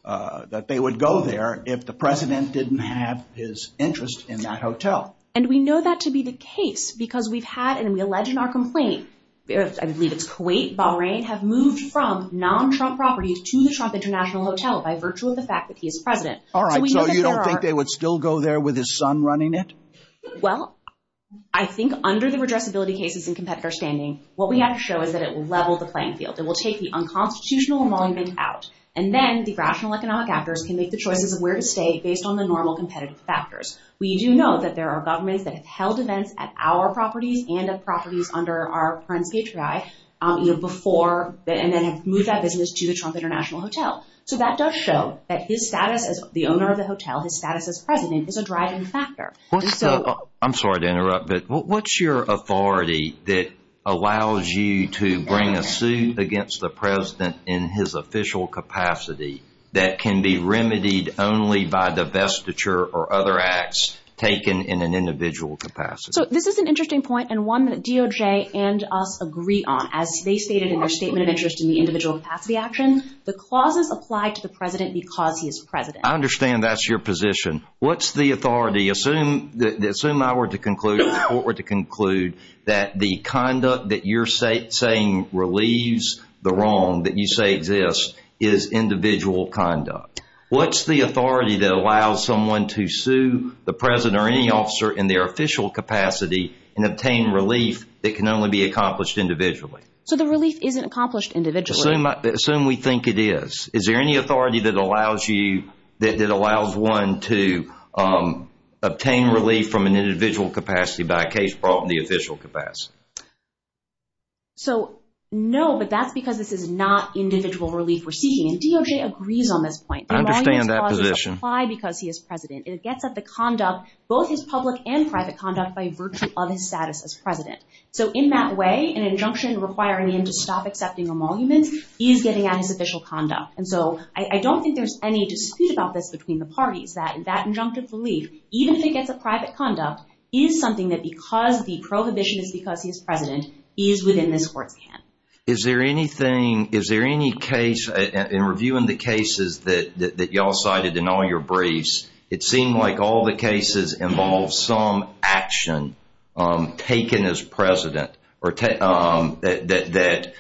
that they would go there if the president didn't have his interest in that hotel. And we know that to be the case because we've had and we allege in our complaint, I believe it's Kuwait, Bahrain have moved from non-Trump properties to the Trump International Hotel by virtue of the fact that he is president. All right, so you don't think they would still go there with his son running it? Well, I think under the redressability cases and competitor standing, what we have to show is that it will level the playing field. It will take the unconstitutional monument out and then the rational economic actors can make the choices of where to stay based on the normal competitive factors. We do know that there are governments that have held events at our properties and of properties under our parents' patriarchy before and then have moved that business to the Trump International Hotel. So that does show that his status as the owner of the hotel, his status as president is a driving factor. I'm sorry to interrupt, but what's your authority that allows you to bring a suit against the president in his official capacity that can be remedied only by divestiture or other acts taken in an individual capacity? So this is an interesting point and one that DOJ and us agree on. As they stated in their statement of interest in the individual capacity action, the clauses apply to the president because he is president. I understand that's your position. What's the authority? Assume I were to conclude, the court were to conclude that the conduct that you're saying relieves the wrong that you say exists is individual conduct. What's the authority that allows someone to sue the president or any officer in their official capacity and obtain relief that can only be accomplished individually? So the relief isn't accomplished individually. Assume we think it is. Is there any authority that allows you, that allows one to obtain relief from an individual capacity by a case brought in the official capacity? So no, but that's because this is not individual relief we're seeking. And DOJ agrees on this point. I understand that position. Because he is president and it gets at the conduct, both his public and private conduct by virtue of his status as president. So in that way, an injunction requiring him to stop accepting emoluments is getting at his official conduct. And so I don't think there's any dispute about this between the parties that that injunctive relief, even if it gets a private conduct, is something that because the prohibition is because he is president, is within this court's hand. Is there anything, is there any case in reviewing the cases that y'all cited in all your briefs, it seemed like all the cases involve some action taken as president or that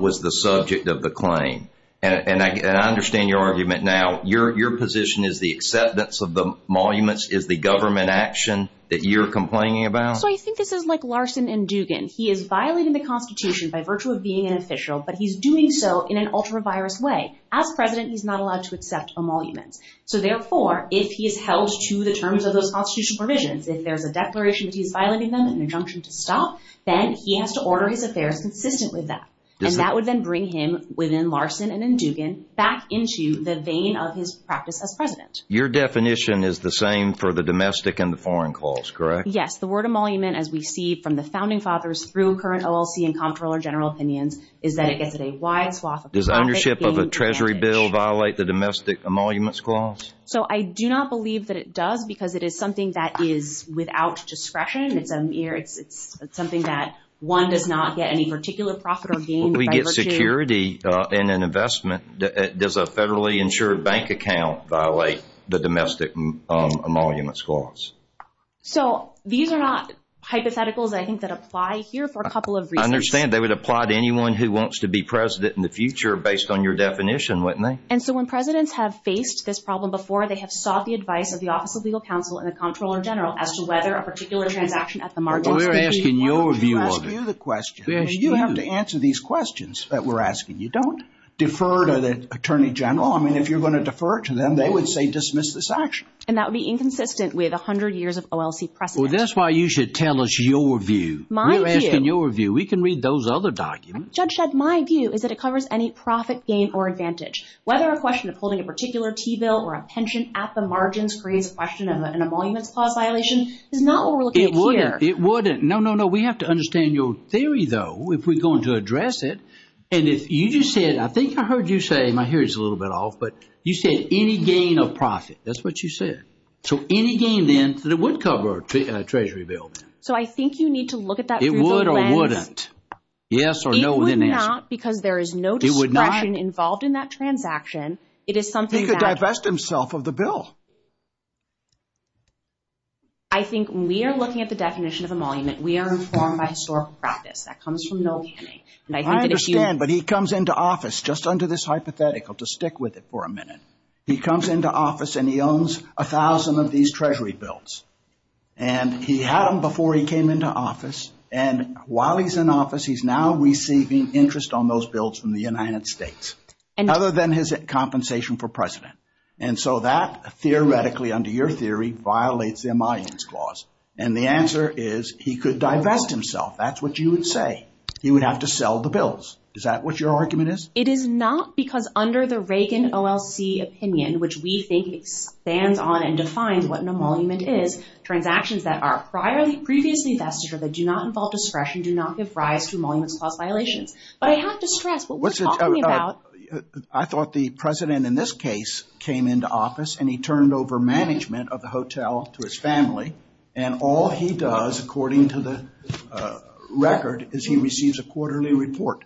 was the subject of the claim. And I understand your argument now. Your position is the acceptance of the emoluments is the government action that you're complaining about? So I think this is like Larson and Dugan. He is violating the Constitution by virtue of being an official, but he's doing so in an ultra virus way. As president, he's not allowed to accept emoluments. So therefore, if he is held to the terms of those constitutional provisions, if there's a declaration that he's violating them and injunction to stop, then he has to order his affairs consistent with that. And that would then bring him within Larson and Dugan back into the vein of his practice as president. Your definition is the same for the domestic and the foreign calls, correct? Yes, the word emolument, as we see from the founding fathers through current OLC and Comptroller General Opinions, is that it gets a wide swath. Does ownership of a treasury bill violate the domestic emoluments clause? So I do not believe that it does because it is something that is without discretion. It's something that one does not get any particular profit or gain. We get security in an investment. Does a federally insured bank account violate the domestic emoluments clause? So these are not hypotheticals, I think, that apply here for a couple of reasons. I understand. They would apply to anyone who wants to be president in the future based on your definition, wouldn't they? And so when presidents have faced this problem before, they have sought the advice of the Office of Legal Counsel and the Comptroller General as to whether a particular transaction at the margin We're asking your view of it. We're asking you the question. You have to answer these questions that we're asking. You don't defer to the Attorney General. I mean, if you're going to defer it to them, they would say dismiss this action. And that would be inconsistent with 100 years of OLC precedent. Well, that's why you should tell us your view. We're asking your view. We can read those other documents. Judge Shedd, my view is that it covers any profit, gain, or advantage. Whether a question of holding a particular T-bill or a pension at the margin creates a question of an emoluments clause violation is not what we're looking at here. It wouldn't. No, no, no. We have to understand your theory, though, if we're going to address it. And if you just said, I think I heard you say, my hearing's a little bit off, but you said any gain of profit. That's what you said. So any gain, then, that it would cover a Treasury bill. So I think you need to look at that. It would or wouldn't. Yes or no, then answer. Because there is no discretion involved in that transaction. It is something that- He could divest himself of the bill. I think we are looking at the definition of emolument. We are informed by historical practice. That comes from Noel Canning. And I think that if you- I understand, but he comes into office just under this hypothetical to stick with it for a minute. He comes into office and he owns a thousand of these Treasury bills. And he had them before he came into office. And while he's in office, he's now receiving interest on those bills from the United States. And other than his compensation for President. And so that theoretically, under your theory, violates the Emoluments Clause. And the answer is he could divest himself. That's what you would say. He would have to sell the bills. Is that what your argument is? It is not because under the Reagan OLC opinion, which we think expands on and defines what an emolument is, transactions that are previously vested or that do not involve discretion do not give rise to emoluments clause violations. But I have to stress what we're talking about- I thought the president in this case came into office and he turned over management of the hotel to his family. And all he does, according to the record, is he receives a quarterly report.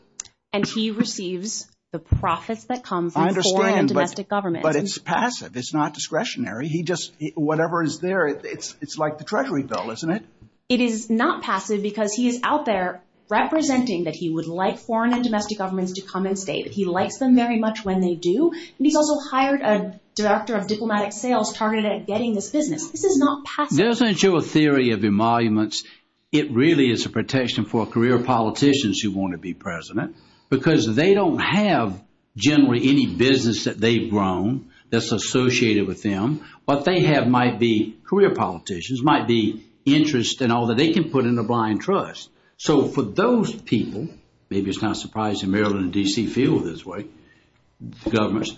And he receives the profits that come from foreign and domestic governments. But it's passive. It's not discretionary. He just, whatever is there, it's like the Treasury bill, isn't it? It is not passive because he is out there representing that he would like foreign and domestic governments to come and stay, that he likes them very much when they do. And he's also hired a director of diplomatic sales targeted at getting this business. This is not passive. Doesn't your theory of emoluments, it really is a protection for career politicians who want to be president because they don't have generally any business that they've grown that's associated with them. What they have might be career politicians, might be interest and all that they can put in a blind trust. So for those people, maybe it's not surprising Maryland and D.C. feel this way, governments,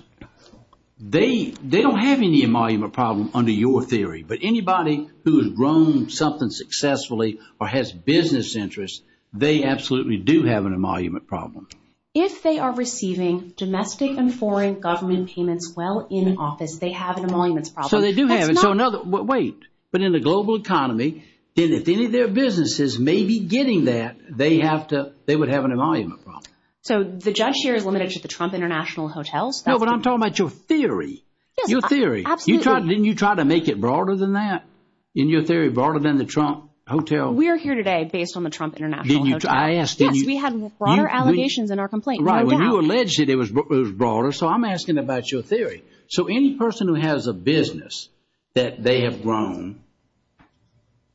they don't have any emolument problem under your theory. But anybody who has grown something successfully or has business interests, they absolutely do have an emolument problem. If they are receiving domestic and foreign government payments while in office, they have an emoluments problem. So they do have it. Wait. But in the global economy, then if any of their businesses may be getting that, they have to, they would have an emolument problem. So the judge share is limited to the Trump International Hotels? No, but I'm talking about your theory. Your theory. Didn't you try to make it broader than that? In your theory, broader than the Trump Hotel? We are here today based on the Trump International Hotel. I asked, didn't you? Yes, we had broader allegations in our complaint. Right, when you alleged it, it was broader. So I'm asking about your theory. So any person who has a business that they have grown,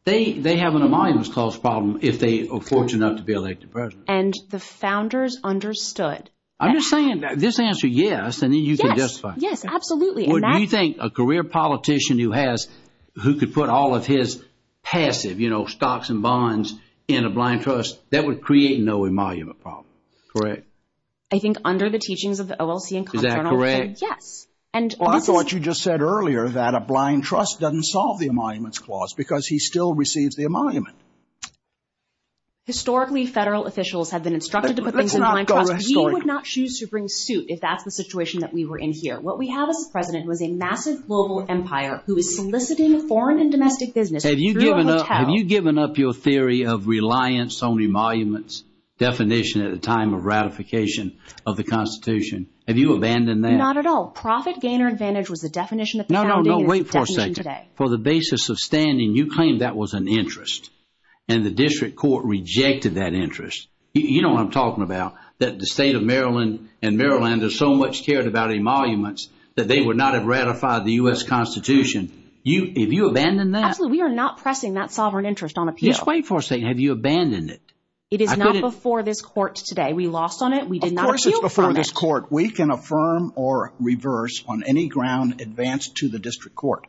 they have an emoluments cost problem if they are fortunate enough to be elected president. And the founders understood. I'm just saying that this answer, yes, and then you can justify. Yes, absolutely. What do you think a career politician who has, who could put all of his passive, you know, stocks and bonds in a blind trust, that would create no emolument problem? Correct. I think under the teachings of the OLC and Comptroller. Is that correct? Yes. And also what you just said earlier, a blind trust doesn't solve the emoluments clause because he still receives the emolument. Historically, federal officials have been instructed to put things in a blind trust. We would not choose to bring suit if that's the situation that we were in here. What we have as a president was a massive global empire who is soliciting foreign and domestic business. Have you given up? Have you given up your theory of reliance on emoluments definition at the time of ratification of the Constitution? Have you abandoned that? Not at all. Profit gain or advantage was the definition. No, no, no. Wait for a second. For the basis of standing, you claim that was an interest and the district court rejected that interest. You know what I'm talking about, that the state of Maryland and Maryland are so much cared about emoluments that they would not have ratified the U.S. Constitution. Have you abandoned that? Absolutely. We are not pressing that sovereign interest on appeal. Just wait for a second. Have you abandoned it? It is not before this court today. We lost on it. We did not appeal on it. Of course it's before this court. We can affirm or reverse on any ground advanced to the district court.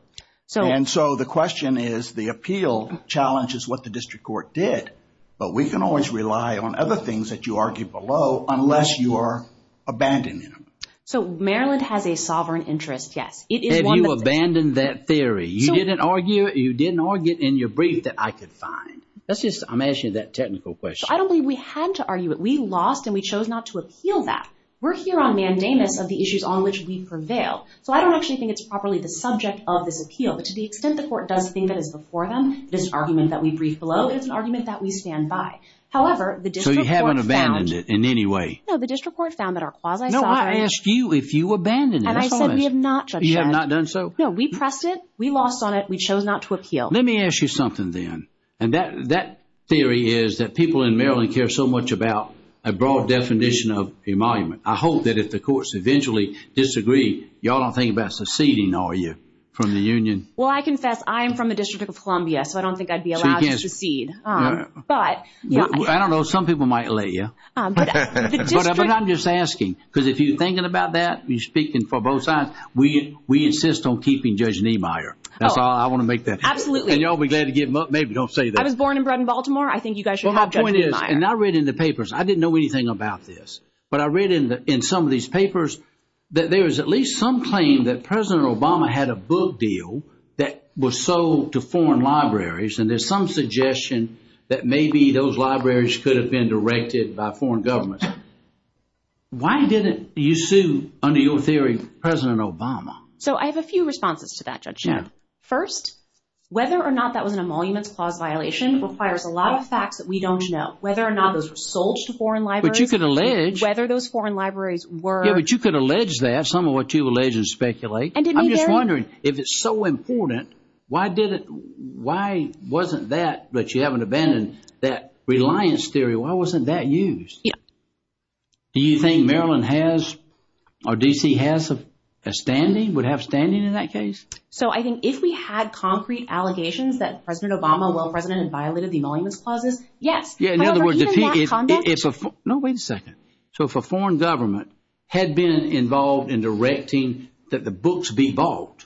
And so the question is the appeal challenge is what the district court did. But we can always rely on other things that you argue below unless you are abandoning them. So Maryland has a sovereign interest. Yes. Have you abandoned that theory? You didn't argue it. You didn't argue it in your brief that I could find. That's just, I'm asking you that technical question. I don't believe we had to argue it. We lost and we chose not to appeal that. We're here on mandamus of the issues on which we prevail. So I don't actually think it's properly the subject of this appeal. But to the extent the court does think that is before them, this argument that we brief below is an argument that we stand by. However, the district court found. So you haven't abandoned it in any way? No, the district court found that our quasi-sovereign. No, I asked you if you abandoned it. And I said we have not, Judge Shedd. You have not done so? No, we pressed it. We lost on it. We chose not to appeal. Let me ask you something then. And that theory is that people in Maryland care so much about a broad definition of emolument. I hope that if the courts eventually disagree, y'all don't think about seceding, are you, from the union? Well, I confess I am from the District of Columbia. So I don't think I'd be allowed to secede. But yeah. I don't know. Some people might let you. But I'm just asking because if you're thinking about that, you're speaking for both sides. We insist on keeping Judge Niemeyer. That's all I want to make that. Absolutely. And y'all be glad to give him up. Maybe don't say that. I was born and bred in Baltimore. I think you guys should have Judge Niemeyer. And I read in the papers, I didn't know anything about this. But I read in some of these papers that there is at least some claim that President Obama had a book deal that was sold to foreign libraries. And there's some suggestion that maybe those libraries could have been directed by foreign governments. Why didn't you sue, under your theory, President Obama? So I have a few responses to that, Judge. First, whether or not that was an emoluments clause violation requires a lot of facts that we don't know. Whether or not those were sold to foreign libraries. Whether those foreign libraries were. Yeah, but you could allege that. Some of what you allege and speculate. And I'm just wondering if it's so important, why wasn't that, but you haven't abandoned that reliance theory, why wasn't that used? Do you think Maryland has, or D.C. has a standing, would have standing in that case? So I think if we had concrete allegations that President Obama, while president, had violated the emoluments clauses, yes. Yeah. In other words, if, no, wait a second. So if a foreign government had been involved in directing that the books be bought,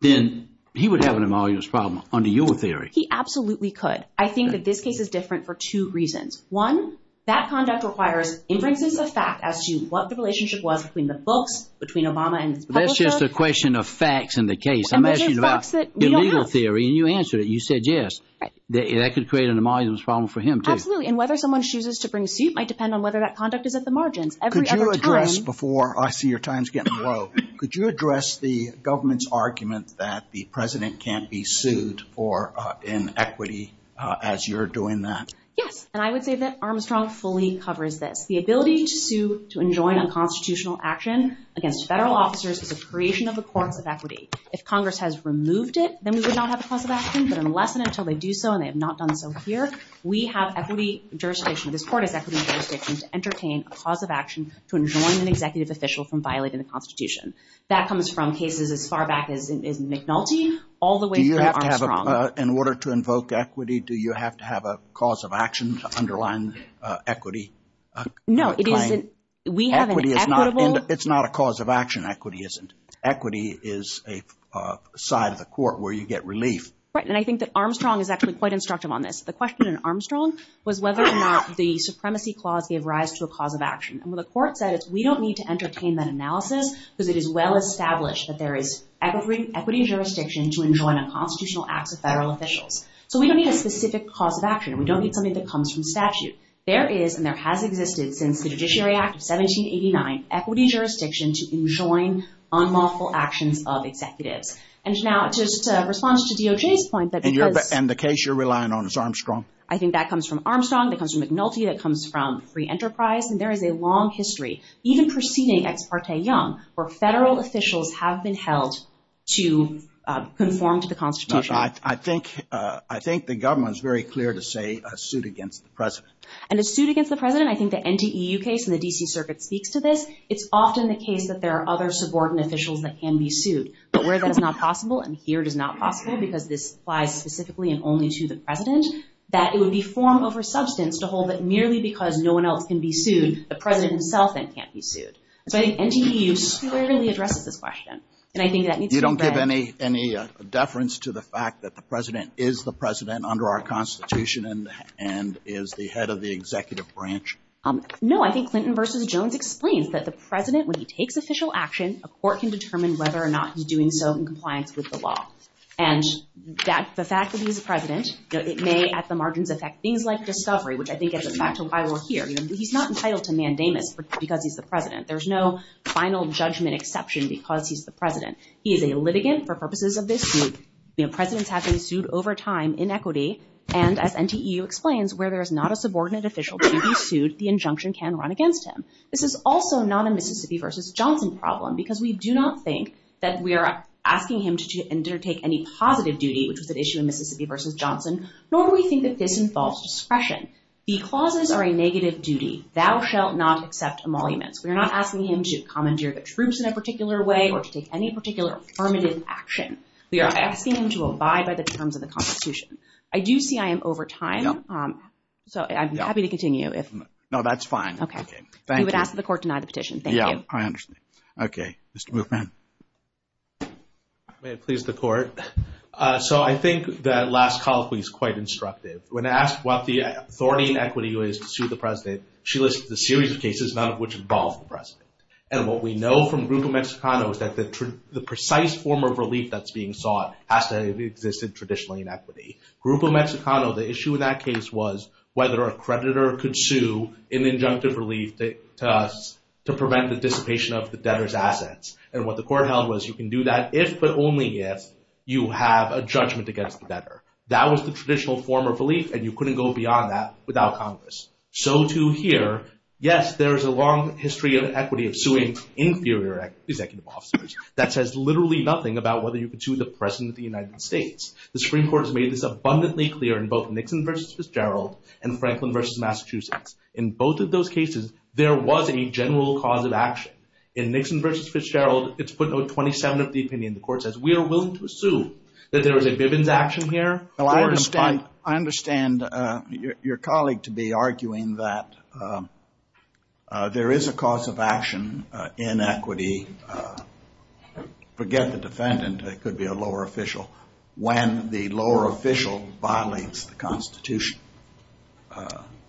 then he would have an emoluments problem under your theory. He absolutely could. I think that this case is different for two reasons. One, that conduct requires inferences of fact as to what the relationship was between the books, between Obama and his publisher. That's just a question of facts in the case. I'm asking you about the legal theory and you answered it. You said yes. That could create an emoluments problem for him too. And whether someone chooses to bring suit might depend on whether that conduct is at the margins. Could you address, before I see your time's getting low, could you address the government's argument that the president can't be sued for inequity as you're doing that? Yes. And I would say that Armstrong fully covers this. The ability to sue to enjoin unconstitutional action against federal officers is a creation of the courts of equity. If Congress has removed it, then we would not have a cause of action. But unless and until they do so and they have not done so here, we have equity jurisdiction. This court has equity jurisdiction to entertain a cause of action to enjoin an executive official from violating the Constitution. That comes from cases as far back as McNulty all the way to Armstrong. In order to invoke equity, do you have to have a cause of action to underline equity? No. It's not a cause of action. Equity isn't. Equity is a side of the court where you get relief. Right. And I think that Armstrong is actually quite instructive on this. The question in Armstrong was whether or not the Supremacy Clause gave rise to a cause of action. And what the court said is we don't need to entertain that analysis because it is well established that there is equity jurisdiction to enjoin unconstitutional acts of federal officials. So we don't need a specific cause of action. We don't need something that comes from statute. There is and there has existed since the Judiciary Act of 1789 equity jurisdiction to enjoin unlawful actions of executives. And now just to respond to DOJ's point that because— And the case you're relying on is Armstrong. I think that comes from Armstrong. That comes from McNulty. That comes from Free Enterprise. And there is a long history, even preceding Ex parte Young, where federal officials have been held to conform to the Constitution. I think the government is very clear to say a suit against the president. And a suit against the president, I think the NDEU case in the D.C. Circuit speaks to this. It's often the case that there are other subordinate officials that can be sued. But where that is not possible, and here it is not possible because this applies specifically and only to the president, that it would be form over substance to hold that merely because no one else can be sued, the president himself then can't be sued. And so I think NDEU squarely addresses this question. And I think that needs to be read— You don't give any deference to the fact that the president is the president under our Constitution and is the head of the executive branch? No, I think Clinton versus Jones explains that the president, when he takes official action, a court can determine whether or not he's doing so in compliance with the law. And the fact that he's the president, it may at the margins affect things like discovery, which I think is a factor why we're here. He's not entitled to mandamus because he's the president. There's no final judgment exception because he's the president. He is a litigant for purposes of this suit. Presidents have been sued over time in equity. And as NDEU explains, where there is not a subordinate official to be sued, the injunction can run against him. This is also not a Mississippi versus Johnson problem because we do not think that we are asking him to undertake any positive duty, which was an issue in Mississippi versus Johnson, nor do we think that this involves discretion. The clauses are a negative duty. Thou shall not accept emoluments. We are not asking him to commandeer the troops in a particular way or to take any particular affirmative action. We are asking him to abide by the terms of the Constitution. I do see I am over time. So I'm happy to continue if... No, that's fine. OK, thank you. We would ask that the court deny the petition. Thank you. I understand. OK, Mr. Moffman. May it please the court. So I think that last colloquy is quite instructive. When asked what the authority and equity is to sue the president, she listed the series of cases, none of which involved the president. And what we know from Grupo Mexicano is that the precise form of relief that's being sought has to have existed traditionally in equity. Grupo Mexicano, the issue in that case was whether a creditor could sue an injunctive relief to prevent the dissipation of the debtor's assets. And what the court held was you can do that if, but only if, you have a judgment against the debtor. That was the traditional form of relief, and you couldn't go beyond that without Congress. So to hear, yes, there is a long history of equity of suing inferior executive officers. That says literally nothing about whether you could sue the president of the United States. The Supreme Court has made this abundantly clear in both Nixon versus Fitzgerald and Franklin versus Massachusetts. In both of those cases, there was a general cause of action. In Nixon versus Fitzgerald, it's put 27 of the opinion. The court says, we are willing to assume that there was a Bivens action here. I understand your colleague to be arguing that there is a cause of action in equity. Forget the defendant, it could be a lower official. When the lower official violates the Constitution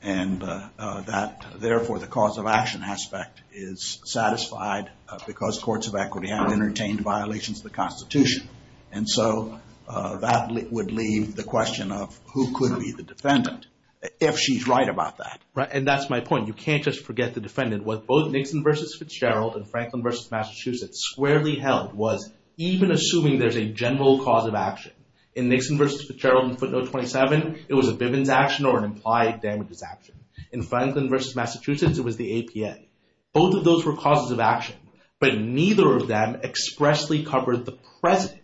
and that, therefore, the cause of action aspect is satisfied because courts of equity haven't entertained violations of the Constitution. And so that would leave the question of who could be the defendant if she's right about that. And that's my point. You can't just forget the defendant. What both Nixon versus Fitzgerald and Franklin versus Massachusetts squarely held was even assuming there's a general cause of action in Nixon versus Fitzgerald and footnote 27, it was a Bivens action or an implied damages action. In Franklin versus Massachusetts, it was the APA. Both of those were causes of action, but neither of them expressly covered the President.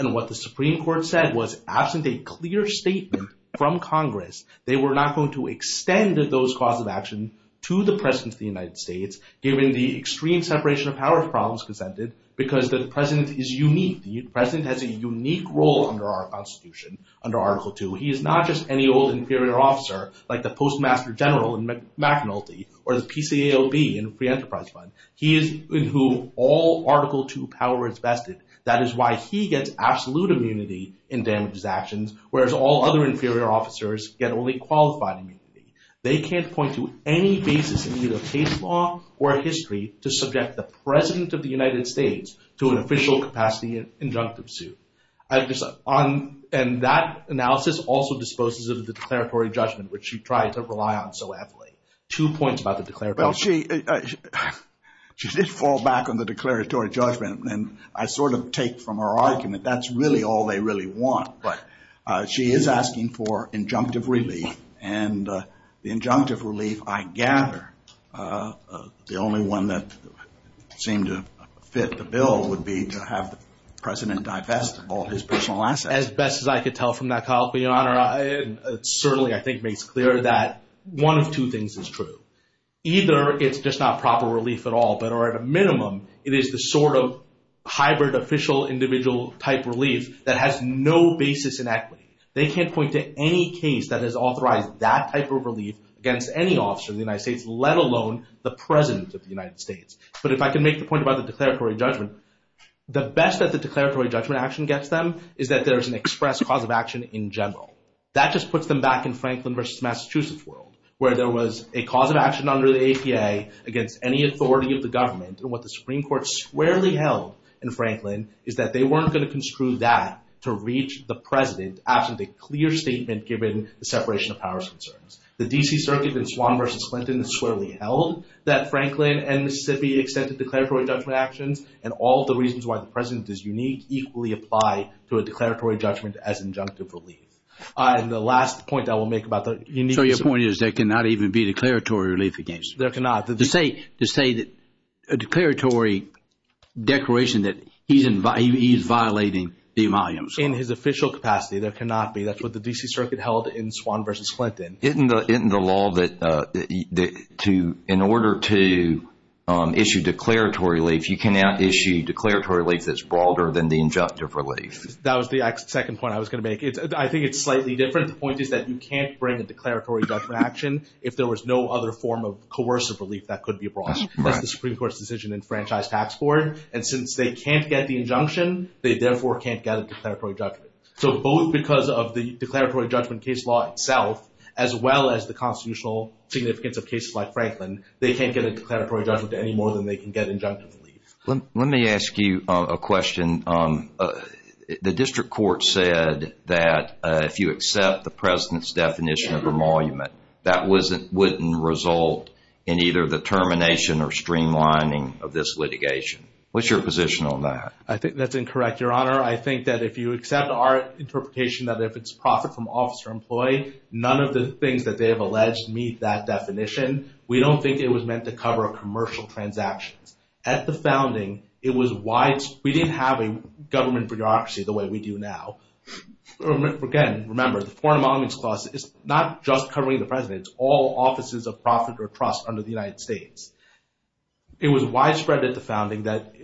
And what the Supreme Court said was absent a clear statement from Congress, they were not going to extend those causes of action to the President of the United States, given the extreme separation of powers problems presented because the President is unique. The President has a unique role under our Constitution, under Article II. He is not just any old inferior officer like the Postmaster General in McNulty or the PCAOB in Free Enterprise Fund. He is in whom all Article II power is vested. That is why he gets absolute immunity in damages actions, whereas all other inferior officers get only qualified immunity. They can't point to any basis in either case law or history to subject the President of the United States to an official capacity injunctive suit. And that analysis also disposes of the declaratory judgment, which you try to rely on so heavily. Two points about the declaratory. Well, she did fall back on the declaratory judgment, and I sort of take from her argument that's really all they really want. But she is asking for injunctive relief and the injunctive relief, I gather, the only one that seemed to fit the bill would be to have the President divest of all his personal assets. As best as I could tell from that, Kyle, but Your Honor, it certainly, I think, makes clear that one of two things is true. Either it's just not proper relief at all, but or at a minimum, it is the sort of hybrid official individual type relief that has no basis in equity. They can't point to any case that has authorized that type of relief against any officer in the United States, let alone the President of the United States. But if I can make the point about the declaratory judgment, the best that the declaratory judgment action gets them is that there's an express cause of action in general. That just puts them back in Franklin versus Massachusetts world, where there was a cause of action under the APA against any authority of the government. And what the Supreme Court squarely held in Franklin is that they weren't going to construe that to reach the President absent a clear statement given the separation of powers concerns. The D.C. Circuit in Swann versus Clinton is squarely held that Franklin and Mississippi extended declaratory judgment actions and all the reasons why the President is unique equally apply to a declaratory judgment as injunctive relief. And the last point I will make about the unique... So your point is there cannot even be declaratory relief against? There cannot. To say that a declaratory declaration that he's violating the volumes. In his official capacity, there cannot be. That's what the D.C. Circuit held in Swann versus Clinton. Isn't the law that in order to issue declaratory relief, you cannot issue declaratory relief that's broader than the injunctive relief? That was the second point I was going to make. I think it's slightly different. The point is that you can't bring a declaratory judgment action if there was no other form of coercive relief that could be brought. That's the Supreme Court's decision in Franchise Tax Court. And since they can't get the injunction, they therefore can't get a declaratory judgment. So both because of the declaratory judgment case law itself, as well as the constitutional significance of cases like Franklin, they can't get a declaratory judgment any more than they can get injunctive relief. Let me ask you a question. The district court said that if you accept the president's definition of emolument, that wouldn't result in either the termination or streamlining of this litigation. What's your position on that? I think that's incorrect, Your Honor. I think that if you accept our interpretation that if it's profit from officer employee, none of the things that they have alleged meet that definition. We don't think it was meant to cover commercial transactions. At the founding, it was why we didn't have a government bureaucracy the way we do now. Again, remember, the Foreign Emoluments Clause is not just covering the president's all offices of profit or trust under the United States. It was widespread at the founding that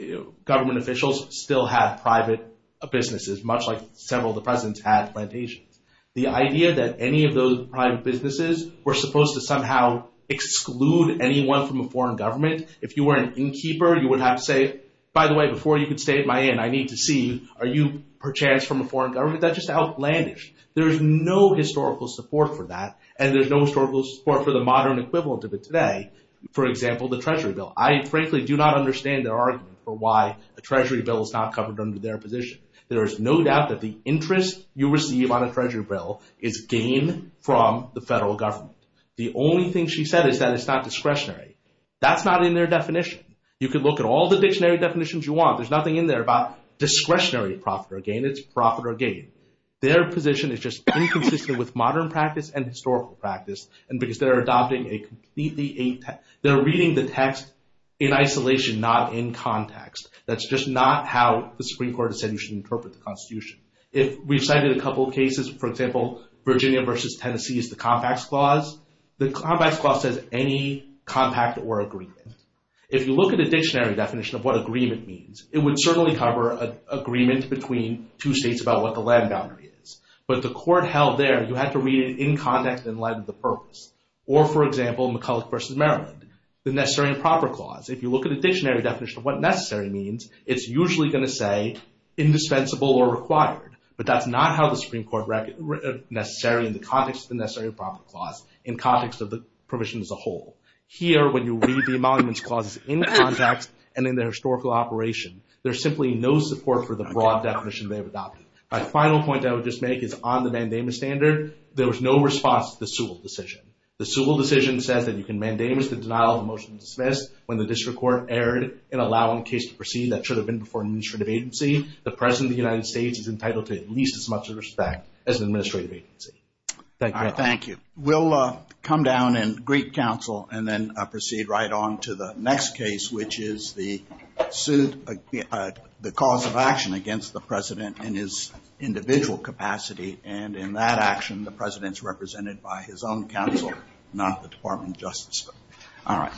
government officials still have private businesses, much like several of the presidents had plantations. The idea that any of those private businesses were supposed to somehow exclude anyone from a foreign government, if you were an innkeeper, you would have to say, by the way, before you could stay at my inn, I need to see are you perchance from a foreign government? That just outlandish. There is no historical support for that, and there's no historical support for the modern equivalent of it today. For example, the Treasury Bill. I frankly do not understand their argument for why a Treasury Bill is not covered under their position. There is no doubt that the interest you receive on a Treasury Bill is gain from the federal government. The only thing she said is that it's not discretionary. That's not in their definition. You could look at all the dictionary definitions you want. There's nothing in there about discretionary profit or gain. It's profit or gain. Their position is just inconsistent with modern practice and historical practice, and because they're adopting a completely... They're reading the text in isolation, not in context. That's just not how the Supreme Court has said you should interpret the Constitution. If we've cited a couple of cases, for example, Virginia versus Tennessee is the Compacts Clause. The Compacts Clause says any compact or agreement. If you look at a dictionary definition of what agreement means, it would certainly cover agreement between two states about what the land boundary is, but the court held there, you had to read it in context in light of the purpose, or for example, McCulloch versus Maryland, the Necessary and Proper Clause. If you look at a dictionary definition of what necessary means, it's usually going to say indispensable or required, but that's not how the Supreme Court necessary in the context of the Necessary and Proper Clause in context of the provision as a whole. Here, when you read the Emoluments Clause in context and in the historical operation, there's simply no support for the broad definition they've adopted. My final point I would just make is on the mandamus standard, there was no response to the Sewell decision. The Sewell decision says that you can mandamus the denial of a motion to dismiss when the district court erred in allowing a case to proceed that should have been before an administrative agency. The President of the United States is entitled to at least as much respect as an administrative agency. Thank you. We'll come down and greet counsel and then proceed right on to the next case, which is the suit, the cause of action against the President and his individual capacity. And in that action, the President's represented by his own counsel, not the Department of Justice. All right.